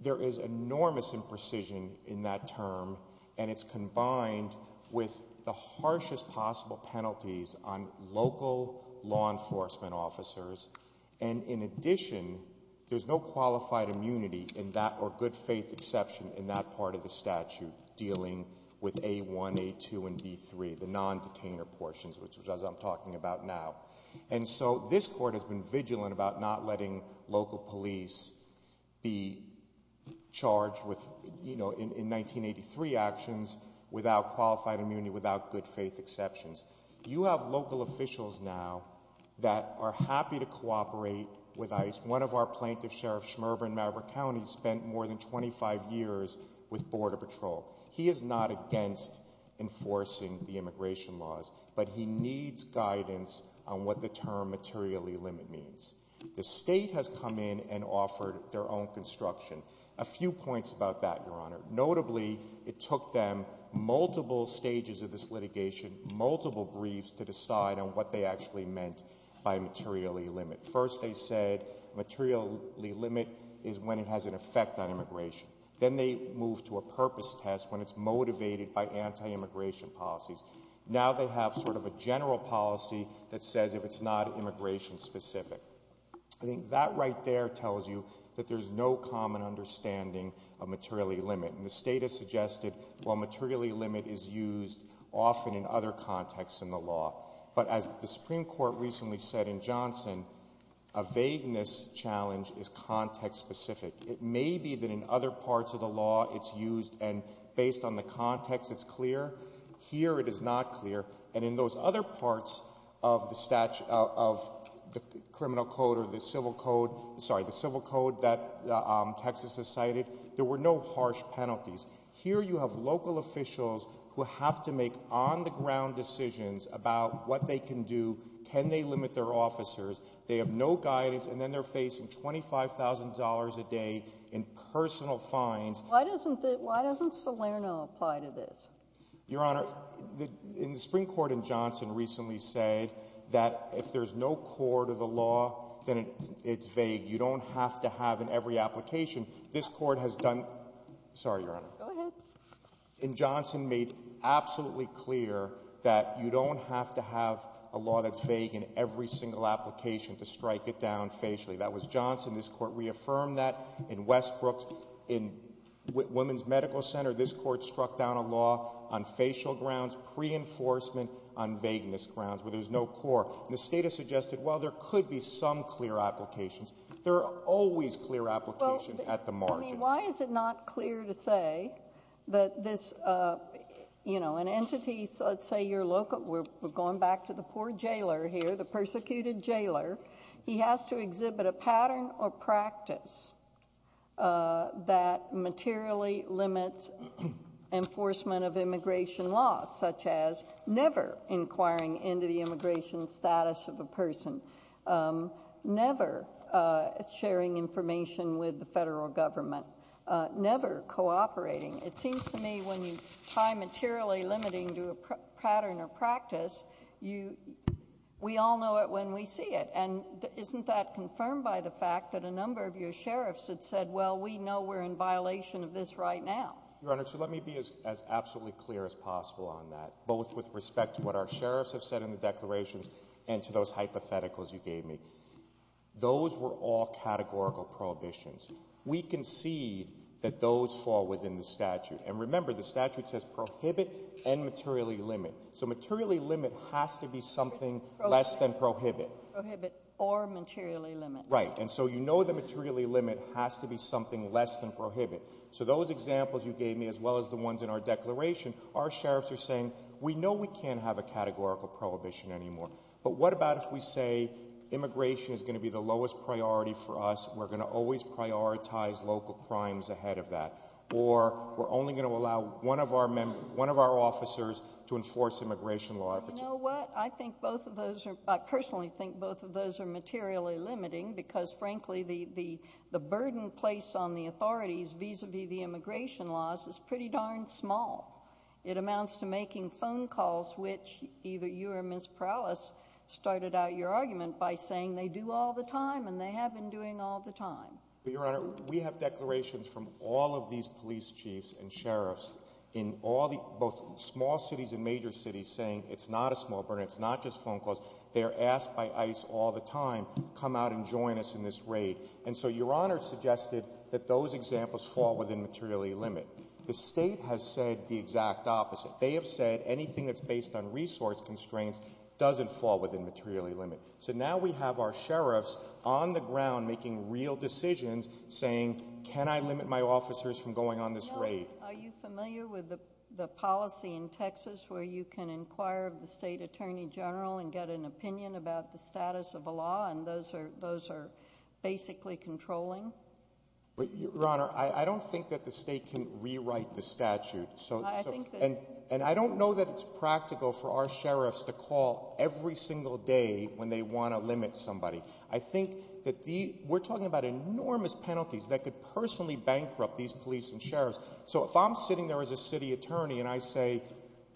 there is enormous imprecision in that term, and it's combined with the harshest possible penalties on local law enforcement officers. And in addition, there's no qualified immunity in that or good faith exception in that part of the statute dealing with A1, A2, and D3, the non-detainer portions, which is what I'm talking about now. And so this court has been vigilant about not letting local police be charged in 1983 actions without qualified immunity, without good faith exceptions. You have local officials now that are happy to cooperate with ICE. One of our plaintiffs, Sheriff Schmerber in Maverick County, has spent more than 25 years with Border Patrol. He is not against enforcing the immigration laws, but he needs guidance on what the term materially limit means. The state has come in and offered their own construction. A few points about that, Your Honor. Notably, it took them multiple stages of this litigation, multiple briefs to decide on what they actually meant by materially limit. First they said materially limit is when it has an effect on immigration. Then they moved to a purpose test when it's motivated by anti-immigration policies. Now they have sort of a general policy that says if it's not immigration-specific. I think that right there tells you that there's no common understanding of materially limit. And the state has suggested, well, materially limit is used often in other contexts in the law. But as the Supreme Court recently said in Johnson, a vagueness challenge is context-specific. It may be that in other parts of the law it's used and based on the context it's clear. Here it is not clear. And in those other parts of the criminal code or the civil code, sorry, the civil code that Texas has cited, there were no harsh penalties. Here you have local officials who have to make on-the-ground decisions about what they can do, can they limit their officers. They have no guidance, and then they're facing $25,000 a day in personal fines. Why doesn't Salerno apply to this? Your Honor, the Supreme Court in Johnson recently said that if there's no core to the law, then it's vague. You don't have to have in every application. This court has done... Sorry, Your Honor. Go ahead. In Johnson, made absolutely clear that you don't have to have a law that's vague in every single application to strike it down facially. That was Johnson. This court reaffirmed that. In Westbrook, in Women's Medical Center, this court struck down a law on facial grounds, pre-enforcement on vagueness grounds where there's no core. And the State has suggested, well, there could be some clear applications. There are always clear applications at the margin. I mean, why is it not clear to say that this, you know, an entity, let's say your local... We're going back to the poor jailer here, the persecuted jailer. He has to exhibit a pattern or practice that materially limits enforcement of immigration law, such as never inquiring into the immigration status of a person, never sharing information with the federal government, never cooperating. It seems to me when you tie materially limiting to a pattern or practice, we all know it when we see it. And isn't that confirmed by the fact that a number of your sheriffs have said, well, we know we're in violation of this right now? Your Honor, so let me be as absolutely clear as possible on that, both with respect to what our sheriffs have said in the declarations and to those hypotheticals you gave me. Those were all categorical prohibitions. We concede that those fall within the statute. And remember, the statute says prohibit and materially limit. So materially limit has to be something less than prohibit. Prohibit or materially limit. Right. And so you know the materially limit has to be something less than prohibit. So those examples you gave me, as well as the ones in our declaration, our sheriffs are saying we know we can't have a categorical prohibition anymore. But what about if we say immigration is going to be the lowest priority for us, we're going to always prioritize local crimes ahead of that, or we're only going to allow one of our officers to enforce immigration law? You know what? I think both of those are – I personally think both of those are materially limiting because, frankly, the burden placed on the authorities vis-à-vis the immigration laws is pretty darn small. It amounts to making phone calls, which either you or Ms. Prowlis started out your argument by saying they do all the time, and they have been doing all the time. Your Honor, we have declarations from all of these police chiefs and sheriffs in both small cities and major cities saying it's not a small burden. It's not just phone calls. They are asked by ICE all the time to come out and join us in this raid. And so Your Honor suggested that those examples fall within materially limit. The state has said the exact opposite. They have said anything that's based on resource constraints doesn't fall within materially limit. So now we have our sheriffs on the ground making real decisions saying, can I limit my officers from going on this raid? Are you familiar with the policy in Texas where you can inquire of the state attorney general and get an opinion about the status of a law, and those are basically controlling? Your Honor, I don't think that the state can rewrite the statute. And I don't know that it's practical for our sheriffs to call every single day when they want to limit somebody. I think that we're talking about enormous penalties that could personally bankrupt these police and sheriffs. So if I'm sitting there as a city attorney and I say,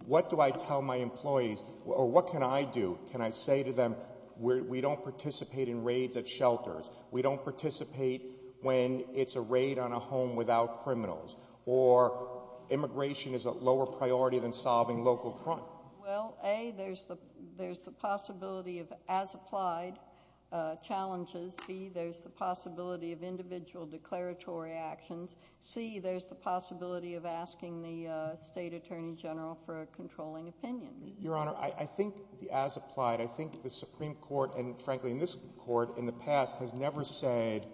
what do I tell my employees or what can I do? Can I say to them, we don't participate in raids at shelters. We don't participate when it's a raid on a home without criminals. Or immigration is a lower priority than solving local crime. Well, A, there's the possibility of as-applied challenges. B, there's the possibility of individual declaratory actions. C, there's the possibility of asking the state attorney general for a controlling opinion. Your Honor, I think the as-applied, I think the Supreme Court, and frankly in this court in the past, has never said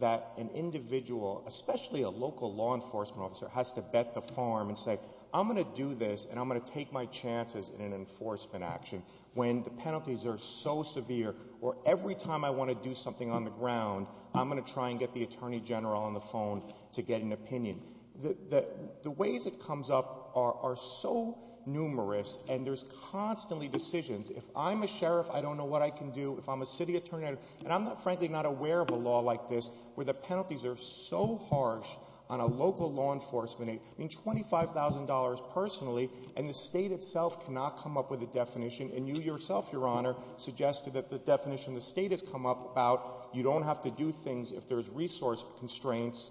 that an individual, especially a local law enforcement officer, has to bet the farm and say, I'm going to do this and I'm going to take my chances in an enforcement action when the penalties are so severe or every time I want to do something on the ground, I'm going to try and get the attorney general on the phone to get an opinion. The ways it comes up are so numerous and there's constantly decisions. If I'm a sheriff, I don't know what I can do. If I'm a city attorney, and I'm frankly not aware of a law like this where the penalties are so harsh on a local law enforcement age. I mean, $25,000 personally, and the state itself cannot come up with a definition, and you yourself, Your Honor, suggested that the definition the state has come up about, you don't have to do things if there's resource constraints,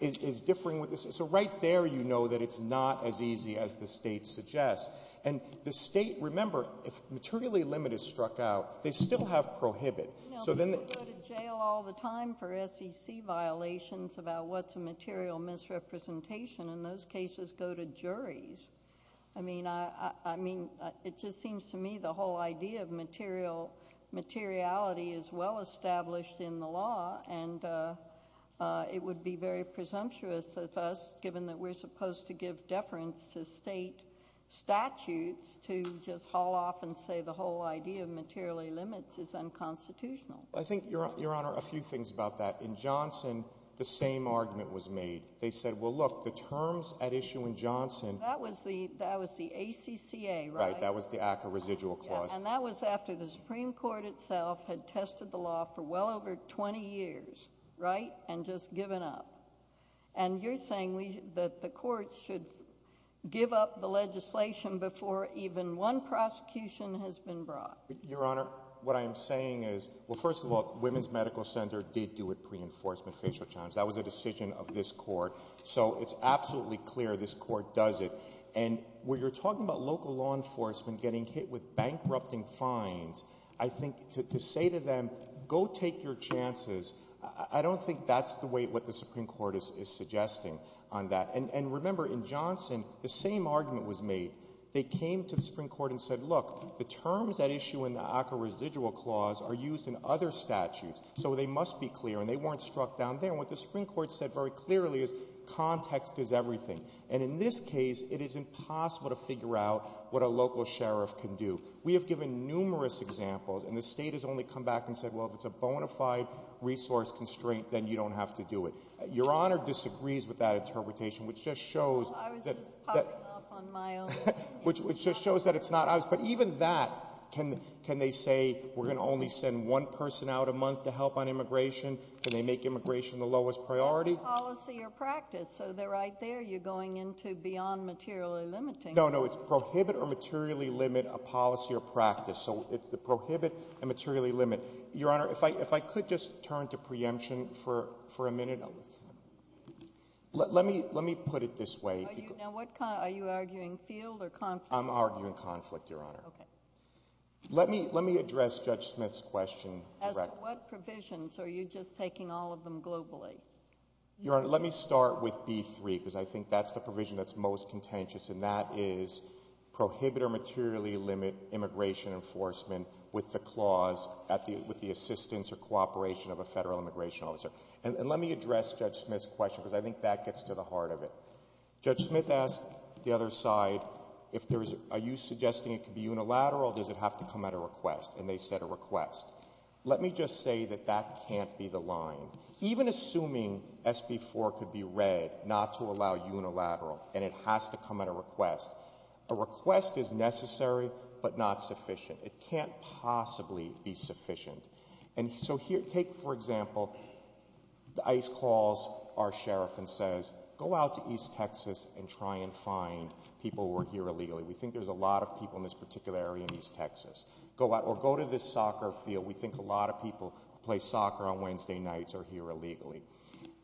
is differing. So right there you know that it's not as easy as the state suggests. And the state, remember, if materially limit is struck out, they still have prohibit. You know, people go to jail all the time for SEC violations about what's a material misrepresentation, and those cases go to juries. I mean, it just seems to me the whole idea of materiality is well established in the law, and it would be very presumptuous of us, given that we're supposed to give deference to state statutes, to just haul off and say the whole idea of materially limits is unconstitutional. I think, Your Honor, a few things about that. In Johnson, the same argument was made. They said, well, look, the terms at issue in Johnson. That was the ACCA, right? Right, that was the Act of Residual Clause. And that was after the Supreme Court itself had tested the law for well over 20 years, right, and just given up. And you're saying that the courts should give up the legislation before even one prosecution has been brought. Your Honor, what I am saying is, well, first of all, Women's Medical Center did do a pre-enforcement facial challenge. That was a decision of this court. So it's absolutely clear this court does it. And when you're talking about local law enforcement getting hit with bankrupting fines, I think to say to them, go take your chances, I don't think that's the way what the Supreme Court is suggesting on that. And remember, in Johnson, the same argument was made. They came to the Supreme Court and said, look, the terms at issue in the ACCA Residual Clause are used in other statutes, so they must be clear, and they weren't struck down there. And what the Supreme Court said very clearly is context is everything. And in this case, it is impossible to figure out what a local sheriff can do. We have given numerous examples, and the state has only come back and said, well, if it's a bona fide resource constraint, then you don't have to do it. Your Honor disagrees with that interpretation, which just shows that it's not us. But even that, can they say we're going to only send one person out a month to help on immigration? Can they make immigration the lowest priority? It's a policy or practice, so they're right there. You're going into beyond material or limiting. No, no, it's prohibit or materially limit a policy or practice. So it's prohibit and materially limit. Your Honor, if I could just turn to preemption for a minute. Let me put it this way. Are you arguing field or conflict? I'm arguing conflict, Your Honor. Okay. Let me address Judge Smith's question. As to what provisions, are you just taking all of them globally? Your Honor, let me start with B3, because I think that's the provision that's most contentious, and that is prohibit or materially limit immigration enforcement with the clause, with the assistance or cooperation of a federal immigration officer. And let me address Judge Smith's question, because I think that gets to the heart of it. Judge Smith asked the other side, are you suggesting it can be unilateral, or does it have to come at a request? And they said a request. Let me just say that that can't be the line. Even assuming SB 4 could be read not to allow unilateral, and it has to come at a request, a request is necessary but not sufficient. It can't possibly be sufficient. And so take, for example, ICE calls our sheriff and says, go out to East Texas and try and find people who are here illegally. We think there's a lot of people in this particular area in East Texas. Or go to this soccer field. We think a lot of people play soccer on Wednesday nights or are here illegally.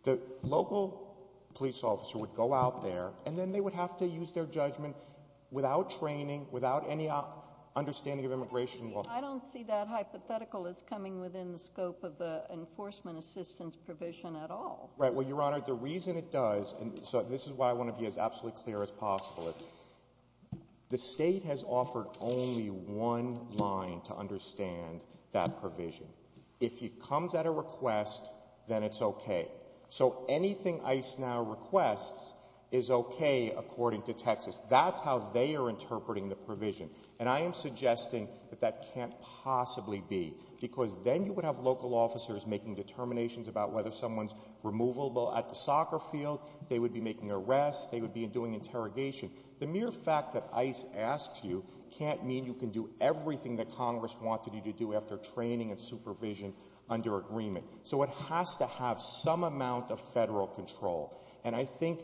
The local police officer would go out there, and then they would have to use their judgment without training, without any understanding of immigration law. I don't see that hypothetical as coming within the scope of the enforcement assistance provision at all. Right. Well, Your Honor, the reason it does, and this is why I want to be as absolutely clear as possible, the state has offered only one line to understand that provision. If it comes at a request, then it's okay. So anything ICE now requests is okay according to Texas. That's how they are interpreting the provision. And I am suggesting that that can't possibly be. Because then you would have local officers making determinations about whether someone's removable at the soccer field. They would be making arrests. They would be doing interrogation. The mere fact that ICE asks you can't mean you can do everything that Congress wanted you to do after training and supervision under agreement. So it has to have some amount of federal control. And I think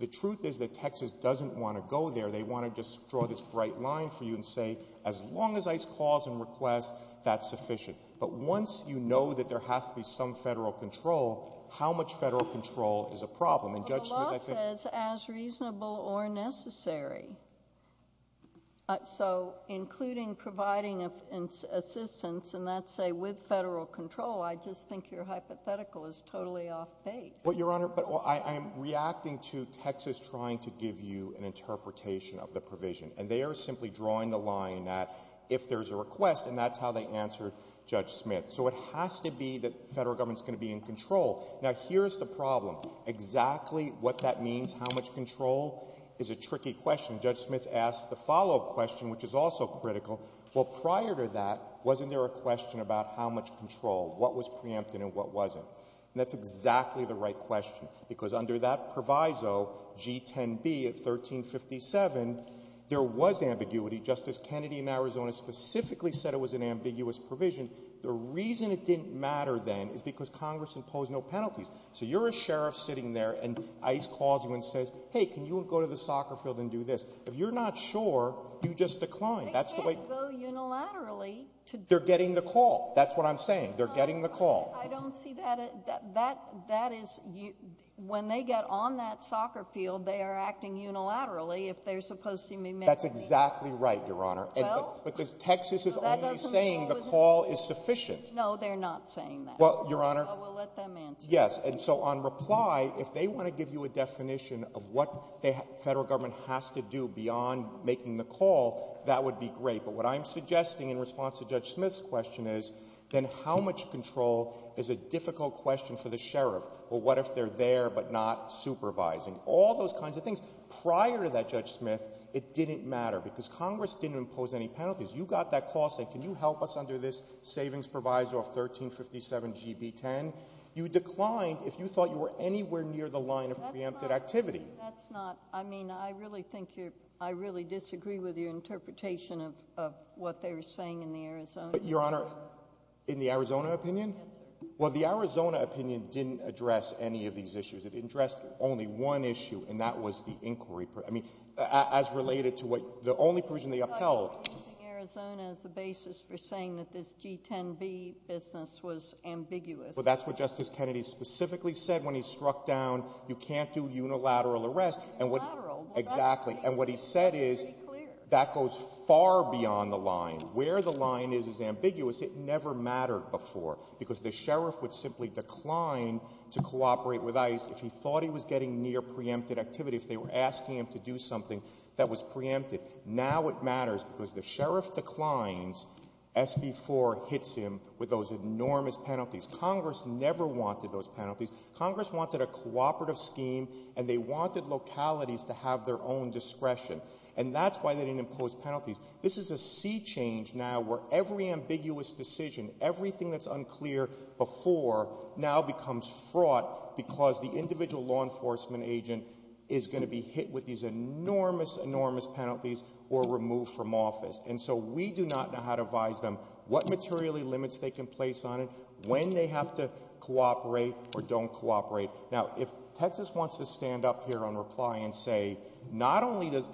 the truth is that Texas doesn't want to go there. They want to just draw this bright line for you and say, as long as ICE calls and requests, that's sufficient. But once you know that there has to be some federal control, how much federal control is a problem? A law says as reasonable or necessary. So including providing assistance, and that's, say, with federal control, I just think your hypothetical is totally off-base. Well, Your Honor, I'm reacting to Texas trying to give you an interpretation of the provision. And they are simply drawing the line that if there's a request, and that's how they answered Judge Smith. So it has to be that federal government's going to be in control. Now, here's the problem. Exactly what that means, how much control, is a tricky question. Judge Smith asked the follow-up question, which is also critical. Well, prior to that, wasn't there a question about how much control, what was preempted and what wasn't? And that's exactly the right question. Because under that proviso, G10B of 1357, there was ambiguity. Justice Kennedy in Arizona specifically said it was an ambiguous provision. The reason it didn't matter then is because Congress imposed no penalties. So you're a sheriff sitting there, and ICE calls you and says, hey, can you go to the soccer field and do this? If you're not sure, you just decline. They can't go unilaterally. They're getting the call. That's what I'm saying. They're getting the call. I don't see that. That is, when they get on that soccer field, they are acting unilaterally if they're supposed to be making the call. That's exactly right, Your Honor. Well? Because Texas is only saying the call is sufficient. No, they're not saying that. Well, Your Honor. Well, we'll let them answer. Yes. And so on reply, if they want to give you a definition of what the federal government has to do beyond making the call, that would be great. But what I'm suggesting in response to Judge Smith's question is, then how much control is a difficult question for the sheriff? Well, what if they're there but not supervising? All those kinds of things. Prior to that, Judge Smith, it didn't matter because Congress didn't impose any penalties. You got that call and said, can you help us under this savings proviso of 1357GB10? You declined if you thought you were anywhere near the line of preempted activity. That's not, I mean, I really think you're, I really disagree with your interpretation of what they're saying in the Arizona opinion. But, Your Honor, in the Arizona opinion? Well, the Arizona opinion didn't address any of these issues. It addressed only one issue, and that was the inquiry. I mean, as related to what, the only provision they upheld. But using Arizona as the basis for saying that this G10B business was ambiguous. But that's what Justice Kennedy specifically said when he struck down, you can't do unilateral arrests. Unilateral? Exactly. And what he said is, that goes far beyond the line. Where the line is is ambiguous. It never mattered before. Because the sheriff would simply decline to cooperate with ICE if he thought he was getting near preempted activity. If they were asking him to do something that was preempted. Now it matters because the sheriff declines, SB 4 hits him with those enormous penalties. Congress never wanted those penalties. Congress wanted a cooperative scheme, and they wanted localities to have their own discretion. And that's why they didn't impose penalties. This is a sea change now where every ambiguous decision, everything that's unclear before, now becomes fraught. Because the individual law enforcement agent is going to be hit with these enormous, enormous penalties or removed from office. And so we do not know how to advise them. What materially limits they can place on it. When they have to cooperate or don't cooperate. Now if Texas wants to stand up here on reply and say, not only does,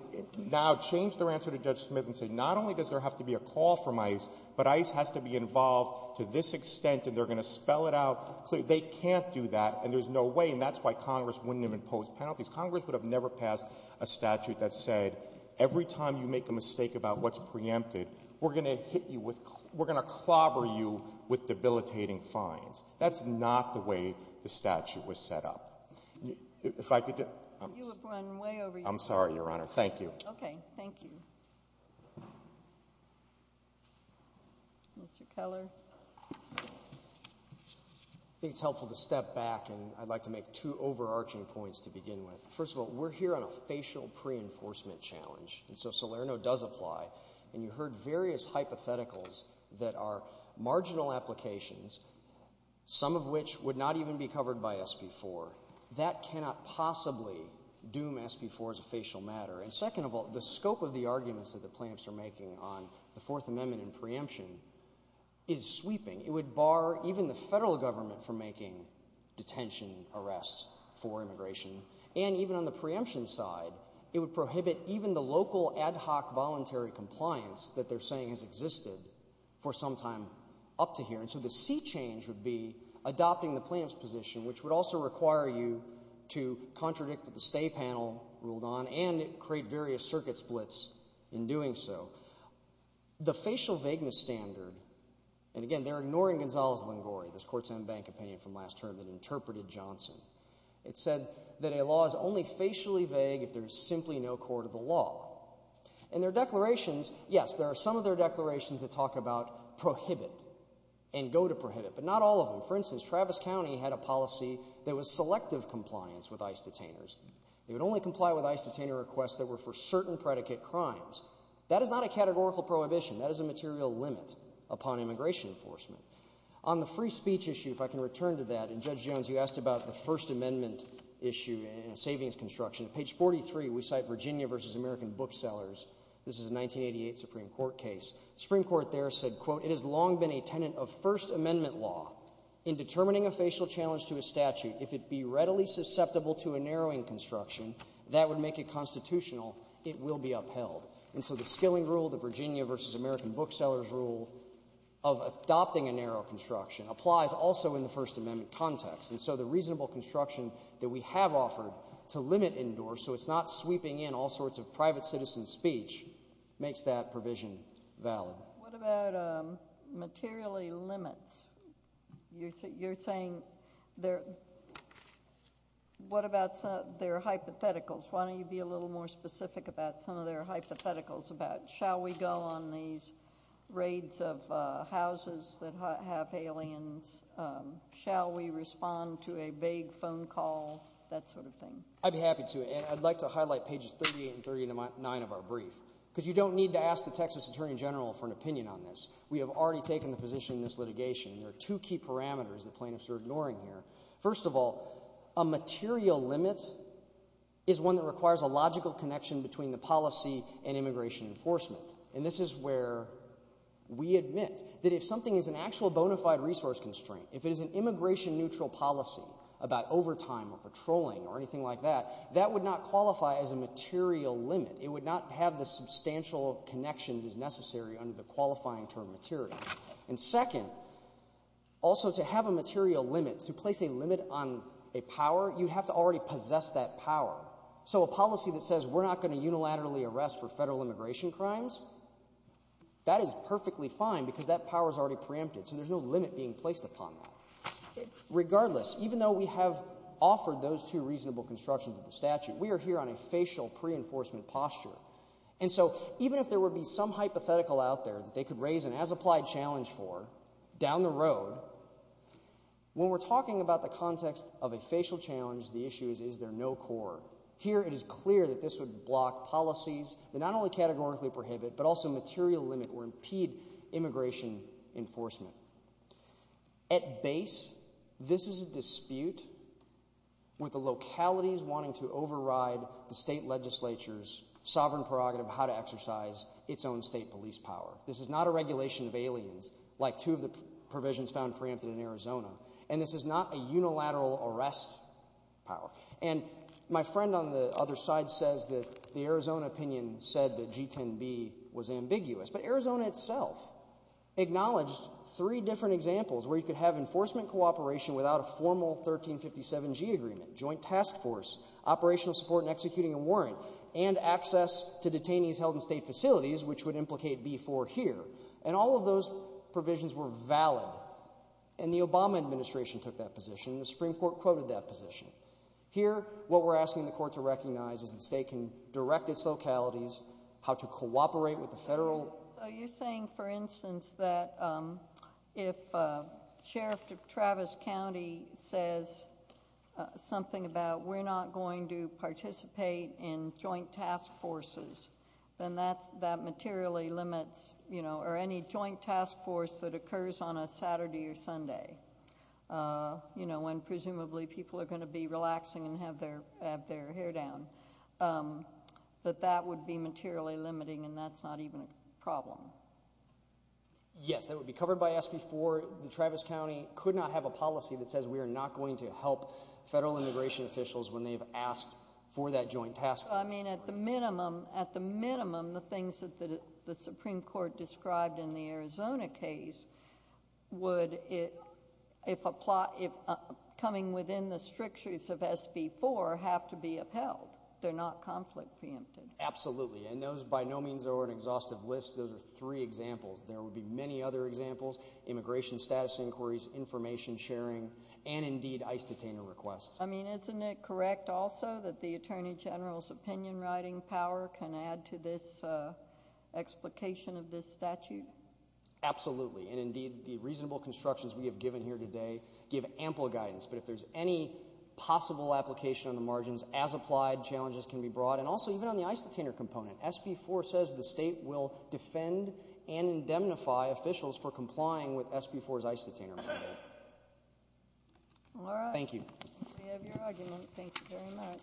now change their answer to Judge Smith and say, not only does there have to be a call from ICE, but ICE has to be involved to this extent and they're going to spell it out. They can't do that, and there's no way. And that's why Congress wouldn't even impose penalties. Congress would have never passed a statute that said, every time you make a mistake about what's preempted, we're going to hit you with, we're going to clobber you with debilitating fines. That's not the way the statute was set up. If I could just. You have run way over. I'm sorry, Your Honor. Thank you. Okay. Thank you. Mr. Keller. I think it's helpful to step back, and I'd like to make two overarching points to begin with. First of all, we're here on a facial pre-enforcement challenge, and so Salerno does apply. And you heard various hypotheticals that are marginal applications, some of which would not even be covered by SB 4. That cannot possibly doom SB 4 as a facial matter. And second of all, the scope of the arguments that the plaintiffs are making on the Fourth Amendment and preemption is sweeping. It would bar even the federal government from making detention arrests for immigration. And even on the preemption side, it would prohibit even the local ad hoc voluntary compliance that they're saying has existed for some time up to here. And so the sea change would be adopting the plaintiff's position, which would also require you to contradict what the state panel ruled on and create various circuit splits in doing so. The facial vagueness standard, and again, they're ignoring Gonzalez-Vangori, this court-signed bank opinion from last term that interpreted Johnson. It said that a law is only facially vague if there's simply no court of the law. And their declarations, yes, there are some of their declarations that talk about prohibit and go to prohibit, but not all of them. For instance, Travis County had a policy that was selective compliance with ICE detainers. They would only comply with ICE detainer requests that were for certain predicate crimes. That is not a categorical prohibition. That is a material limit upon immigration enforcement. On the free speech issue, if I can return to that, and Judge Jones, you asked about the First Amendment issue and savings construction. Page 43, we cite Virginia v. American Booksellers. This is a 1988 Supreme Court case. Supreme Court there said, quote, it has long been a tenant of First Amendment law. In determining a facial challenge to a statute, if it be readily susceptible to a narrowing construction, that would make it constitutional. It will be upheld. And so the skilling rule, the Virginia v. American Booksellers rule of adopting a narrow construction applies also in the First Amendment context. And so the reasonable construction that we have offered to limit indoors so it's not sweeping in all sorts of private citizen speech makes that provision valid. What about materially limits? You're saying, what about their hypotheticals? Why don't you be a little more specific about some of their hypotheticals about, shall we go on these raids of houses that have aliens? Shall we respond to a vague phone call? That sort of thing. I'd be happy to. And I'd like to highlight pages 38 and 39 of our brief. Because you don't need to ask the Texas Attorney General for an opinion on this. We have already taken a position in this litigation. There are two key parameters that plaintiffs are ignoring here. First of all, a material limit is one that requires a logical connection between the policy and immigration enforcement. And this is where we admit that if something is an actual bona fide resource constraint, if it is an immigration neutral policy about overtime or patrolling or anything like that, that would not qualify as a material limit. It would not have the substantial connections as necessary under the qualifying term material. And second, also to have a material limit, to place a limit on a power, you have to already possess that power. So a policy that says we're not going to unilaterally arrest for federal immigration crimes, that is perfectly fine because that power is already preempted. So there's no limit being placed upon that. Regardless, even though we have offered those two reasonable constructions of the statute, we are here on a facial pre-enforcement posture. And so even if there were to be some hypothetical out there that they could raise an as-applied challenge for down the road, when we're talking about the context of a facial challenge, the issue is, is there no core? Here it is clear that this would block policies that not only categorically prohibit but also material limit or impede immigration enforcement. At base, this is a dispute with the localities wanting to override the state legislature's sovereign prerogative of how to exercise its own state police power. This is not a regulation of aliens like two of the provisions found preempted in Arizona. And this is not a unilateral arrest power. And my friend on the other side says that the Arizona opinion said that G10B was ambiguous. But Arizona itself acknowledged three different examples where you could have enforcement cooperation without a formal 1357G agreement, joint task force, operational support and executing a warrant, and access to detainees held in state facilities, which would implicate B4 here. And all of those provisions were valid. And the Obama administration took that position and the Supreme Court quoted that position. Here, what we're asking the court to recognize is the state can direct its localities how to cooperate with the federal... Are you saying, for instance, that if Sheriff Travis County says something about we're not going to participate in joint task forces, then that materially limits, you know, or any joint task force that occurs on a Saturday or Sunday, you know, when presumably people are going to be relaxing and have their hair down, that that would be materially limiting and that's not even a problem? Yes, it would be covered by SB4. Travis County could not have a policy that says we are not going to help federal immigration officials when they've asked for that joint task force. So, I mean, at the minimum, at the minimum, the things that the Supreme Court described in the Arizona case would, if coming within the strictures of SB4, have to be upheld. They're not conflict preempted. Absolutely. And those, by no means, are an exhaustive list of three examples. There would be many other examples, immigration status inquiries, information sharing, and, indeed, ICE detainer requests. I mean, isn't it correct also that the Attorney General's opinion writing power can add to this explication of this statute? Absolutely. And, indeed, the reasonable constructions we have given here today give ample guidance. But if there's any possible application on the margins as applied, challenges can be brought. And, also, even on the ICE detainer component, SB4 says the state will defend and indemnify officials for complying with SB4's ICE detainer mandate. All right. Thank you. We have your argument. Thank you very much.